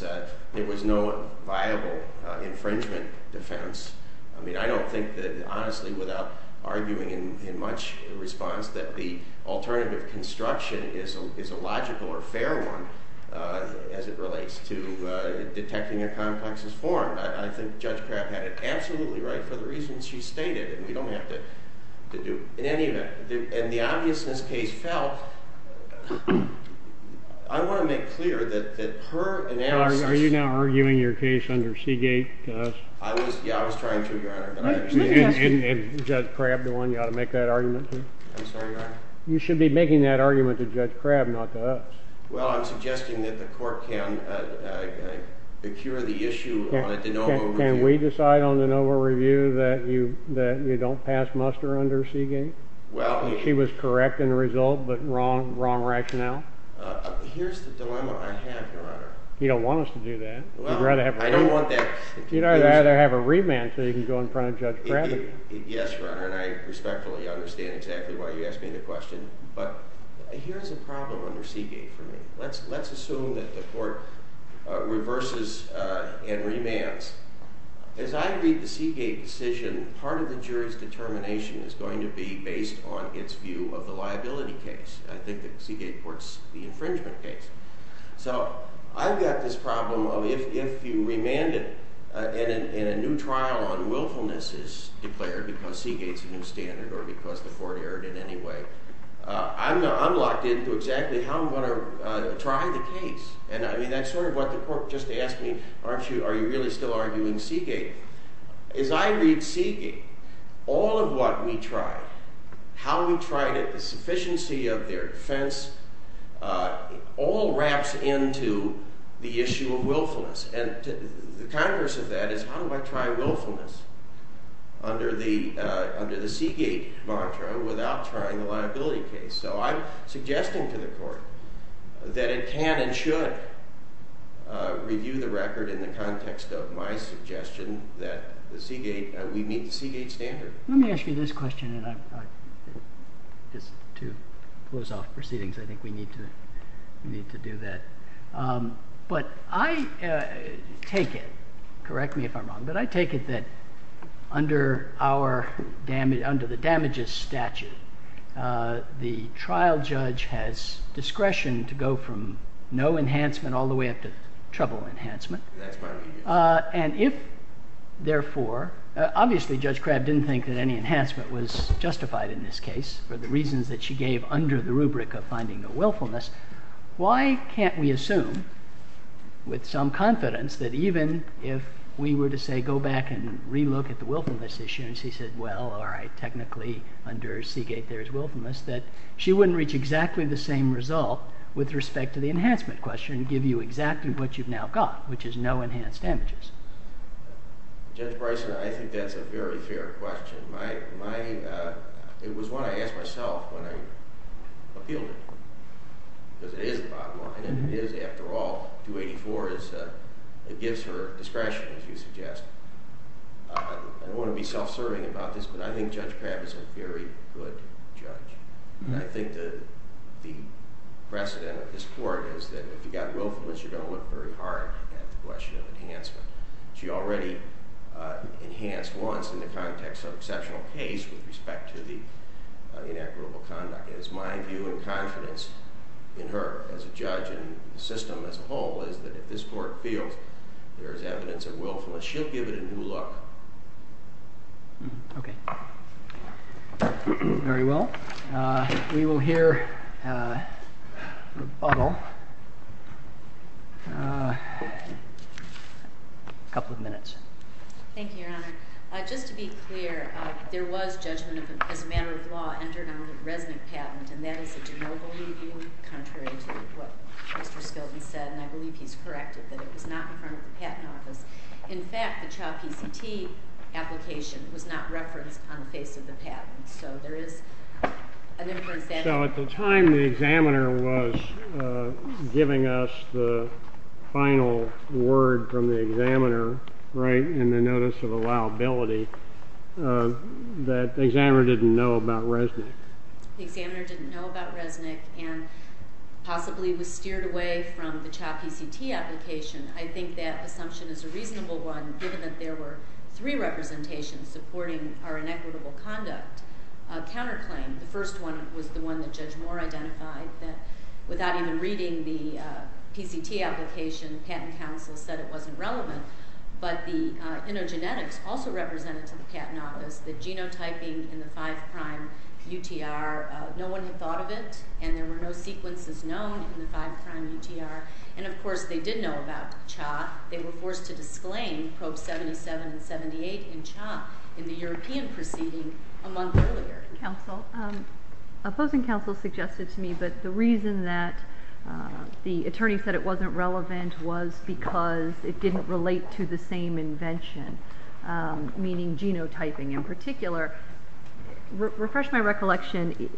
There was no viable infringement defense. I mean, I don't think that, honestly, without arguing in much response, that the alternative construction is a logical or fair one as it relates to detecting a complex's form. I think Judge Crabb had it absolutely right for the reasons she stated, and we don't have to do it. In any event, in the obviousness case felt, I want to make clear that her analysis Are you now arguing your case under Seagate to us? Yeah, I was trying to, Your Honor. And Judge Crabb, the one you ought to make that argument to? I'm sorry, Your Honor? You should be making that argument to Judge Crabb, not to us. Well, I'm suggesting that the Court can secure the issue on a de novo review. That you don't pass muster under Seagate? She was correct in the result, but wrong rationale? Here's the dilemma I have, Your Honor. You don't want us to do that? Well, I don't want that. You'd rather have a remand so you can go in front of Judge Crabb again. Yes, Your Honor, and I respectfully understand exactly why you asked me the question. But here's a problem under Seagate for me. Let's assume that the Court reverses and remands. As I read the Seagate decision, part of the jury's determination is going to be based on its view of the liability case. I think that Seagate courts the infringement case. So I've got this problem of if you remand it and a new trial on willfulness is declared because Seagate's a new standard or because the court erred in any way, I'm locked into exactly how I'm going to try the case. And that's sort of what the court just asked me, are you really still arguing Seagate? As I read Seagate, all of what we tried, how we tried it, the sufficiency of their defense, all wraps into the issue of willfulness. And the converse of that is how do I try willfulness under the Seagate mantra without trying the liability case? So I'm suggesting to the court that it can and should review the record in the context of my suggestion that we meet the Seagate standard. Let me ask you this question and just to close off proceedings. I think we need to do that. But I take it, correct me if I'm wrong, but I take it that under the damages statute, the trial judge has discretion to go from no enhancement all the way up to trouble enhancement. And if, therefore, obviously Judge Crabb didn't think that any enhancement was justified in this case for the reasons that she gave under the rubric of finding no willfulness, why can't we assume with some confidence that even if we were to, say, go back and relook at the willfulness issue and she said, well, all right, technically under Seagate there is willfulness, that she wouldn't reach exactly the same result with respect to the enhancement question and give you exactly what you've now got, which is no enhanced damages. Judge Bryson, I think that's a very fair question. It was one I asked myself when I appealed it because it is the bottom line and it is, after all, 284. It gives her discretion, as you suggest. I don't want to be self-serving about this, but I think Judge Crabb is a very good judge. I think the precedent of this court is that if you've got willfulness, you're going to look very hard at the question of enhancement. She already enhanced once in the context of exceptional case with respect to the inequitable conduct. It is my view and confidence in her as a judge and the system as a whole is that if this court feels there is evidence of willfulness, she'll give it a new look. Okay. Very well. We will hear a rebuttal in a couple of minutes. Thank you, Your Honor. Just to be clear, there was judgment as a matter of law entered on the Resnick patent, and that is a de novo ruling contrary to what Mr. Skilton said, and I believe he's corrected that it was not in front of the patent office. In fact, the CHOP ECT application was not referenced on the face of the patent. So there is an inference there. So at the time the examiner was giving us the final word from the examiner, right, in the notice of allowability, that the examiner didn't know about Resnick. The examiner didn't know about Resnick and possibly was steered away from the CHOP ECT application. I think that assumption is a reasonable one, given that there were three representations supporting our inequitable conduct counterclaim. The first one was the one that Judge Moore identified, that without even reading the PCT application, the Patent Council said it wasn't relevant. But the InnoGenetics also represented to the patent office that genotyping in the five-prime UTR, no one had thought of it, and there were no sequences known in the five-prime UTR. And, of course, they did know about CHOP. They were forced to disclaim Probes 77 and 78 in CHOP in the European proceeding a month earlier. Counsel, opposing counsel suggested to me that the reason that the attorney said it wasn't relevant was because it didn't relate to the same invention, meaning genotyping in particular. Refresh my recollection,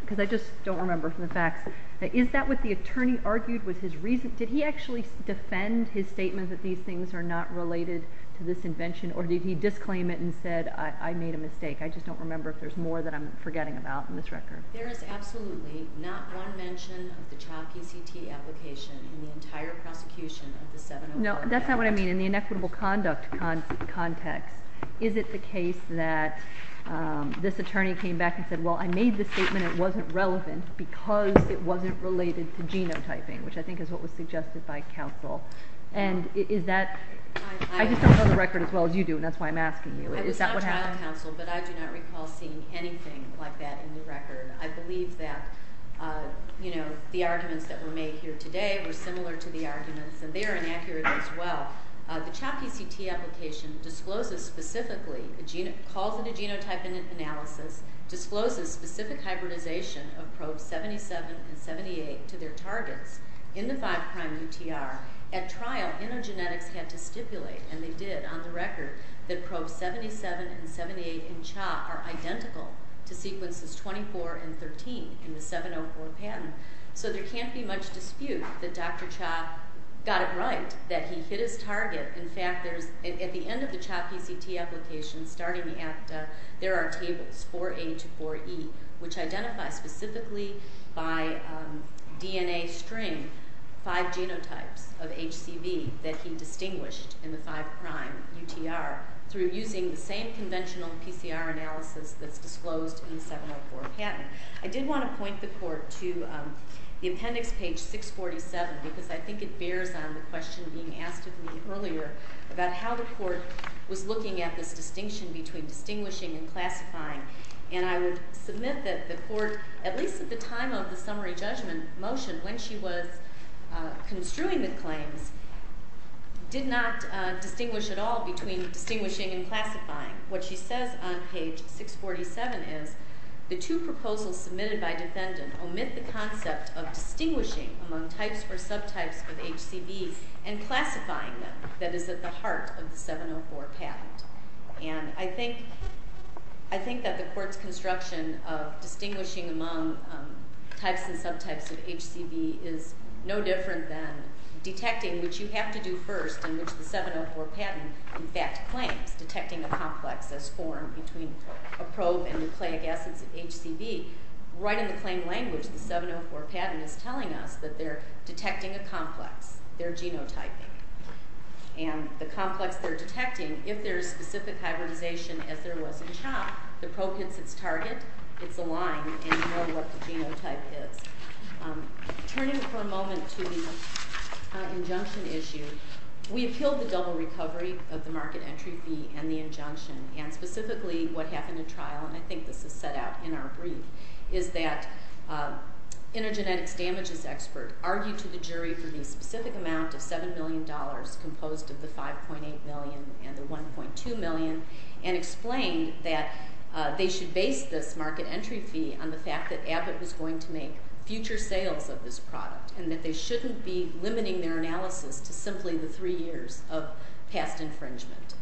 because I just don't remember from the facts. Is that what the attorney argued was his reason? Did he actually defend his statement that these things are not related to this invention, or did he disclaim it and said, I made a mistake? I just don't remember if there's more that I'm forgetting about in this record. There is absolutely not one mention of the CHOP ECT application in the entire prosecution of the 704 Act. No, that's not what I mean. In the inequitable conduct context, is it the case that this attorney came back and said, well, I made this statement. It wasn't relevant because it wasn't related to genotyping, which I think is what was suggested by counsel. And is that – I just don't know the record as well as you do, and that's why I'm asking you. Is that what happened? I was not trial counsel, but I do not recall seeing anything like that in the record. I believe that, you know, the arguments that were made here today were similar to the arguments, and they are inaccurate as well. The CHOP ECT application discloses specifically, calls it a genotyping analysis, discloses specific hybridization of probes 77 and 78 to their targets in the 5' UTR. At trial, intergenetics had to stipulate, and they did on the record, that probes 77 and 78 in CHOP are identical to sequences 24 and 13 in the 704 patent. So there can't be much dispute that Dr. Cha got it right, that he hit his target. In fact, at the end of the CHOP ECT application, starting at – there are tables 4A to 4E, which identify specifically by DNA string five genotypes of HCV that he distinguished in the 5' UTR through using the same conventional PCR analysis that's disclosed in the 704 patent. I did want to point the Court to the appendix, page 647, because I think it bears on the question being asked of me earlier about how the Court was looking at this distinction between distinguishing and classifying. And I would submit that the Court, at least at the time of the summary judgment motion, when she was construing the claims, did not distinguish at all between distinguishing and classifying. What she says on page 647 is the two proposals submitted by defendant omit the concept of distinguishing among types or subtypes of HCV and classifying them that is at the heart of the 704 patent. And I think that the Court's construction of distinguishing among types and subtypes of HCV is no different than detecting, which you have to do first, in which the 704 patent, in fact, claims, detecting a complex as formed between a probe and nucleic acids of HCV. Right in the claim language, the 704 patent is telling us that they're detecting a complex. They're genotyping. And the complex they're detecting, if there is specific hybridization as there was in CHOP, the probe hits its target, it's aligned, and you know what the genotype is. Turning for a moment to the injunction issue, we appealed the double recovery of the market entry fee and the injunction, and specifically what happened in trial, and I think this is set out in our brief, is that an intergenetics damages expert argued to the jury for the specific amount of $7 million composed of the $5.8 million and the $1.2 million and explained that they should base this market entry fee on the fact that Abbott was going to make future sales of this product and that they shouldn't be limiting their analysis to simply the three years of past infringement.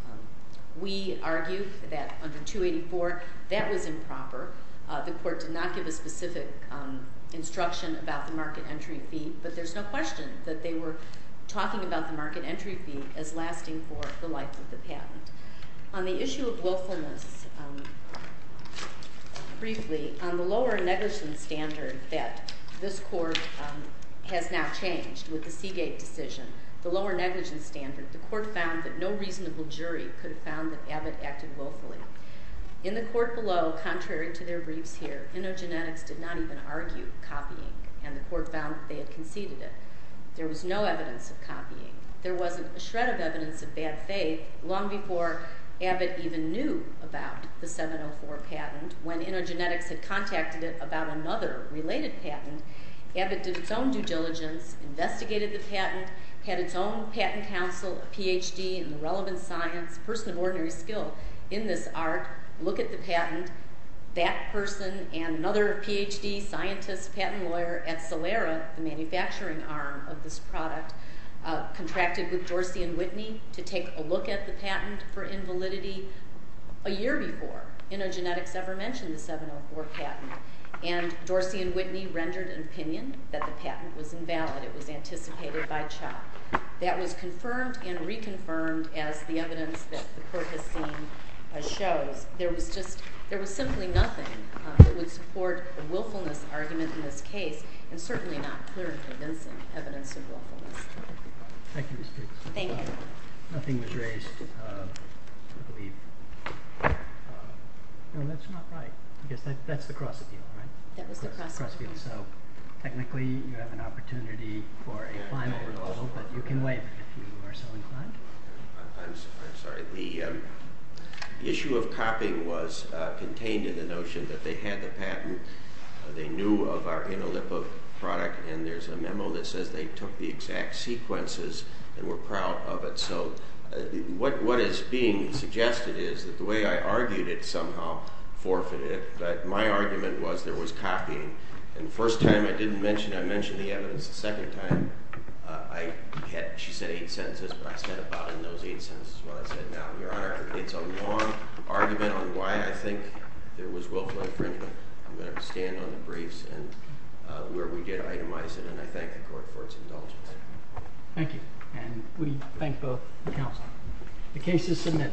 We argued that under 284, that was improper. The court did not give a specific instruction about the market entry fee, but there's no question that they were talking about the market entry fee as lasting for the life of the patent. On the issue of willfulness, briefly, on the lower negligence standard that this court has now changed with the Seagate decision, the lower negligence standard, the court found that no reasonable jury could have found that Abbott acted willfully. In the court below, contrary to their briefs here, intergenetics did not even argue copying, and the court found that they had conceded it. There was no evidence of copying. There wasn't a shred of evidence of bad faith long before Abbott even knew about the 704 patent. When intergenetics had contacted it about another related patent, Abbott did its own due diligence, investigated the patent, had its own patent counsel, a Ph.D. in the relevant science, person of ordinary skill in this art, look at the patent, that person and another Ph.D. scientist, patent lawyer at Celera, the manufacturing arm of this product, contracted with Dorsey and Whitney to take a look at the patent for invalidity a year before intergenetics ever mentioned the 704 patent. And Dorsey and Whitney rendered an opinion that the patent was invalid. It was anticipated by Chuck. That was confirmed and reconfirmed as the evidence that the court has seen shows. There was simply nothing that would support a willfulness argument in this case, and certainly not clear evidence of willfulness. Thank you. Thank you. Nothing was raised, I believe. No, that's not right. I guess that's the cross appeal, right? That was the cross appeal. So technically you have an opportunity for a final rule, but you can wait if you are so inclined. I'm sorry. The issue of copying was contained in the notion that they had the patent, they knew of our enolipa product, and there's a memo that says they took the exact sequences and were proud of it. So what is being suggested is that the way I argued it somehow forfeited it, but my argument was there was copying. And the first time I didn't mention it, I mentioned the evidence. The second time, she said eight sentences, but I said about in those eight sentences what I said now. Your Honor, it's a long argument on why I think there was willfulness. I'm going to have to stand on the briefs and where we did itemize it, and I thank the court for its indulgence. Thank you. And we thank both the counsel. The case is submitted. Thank you.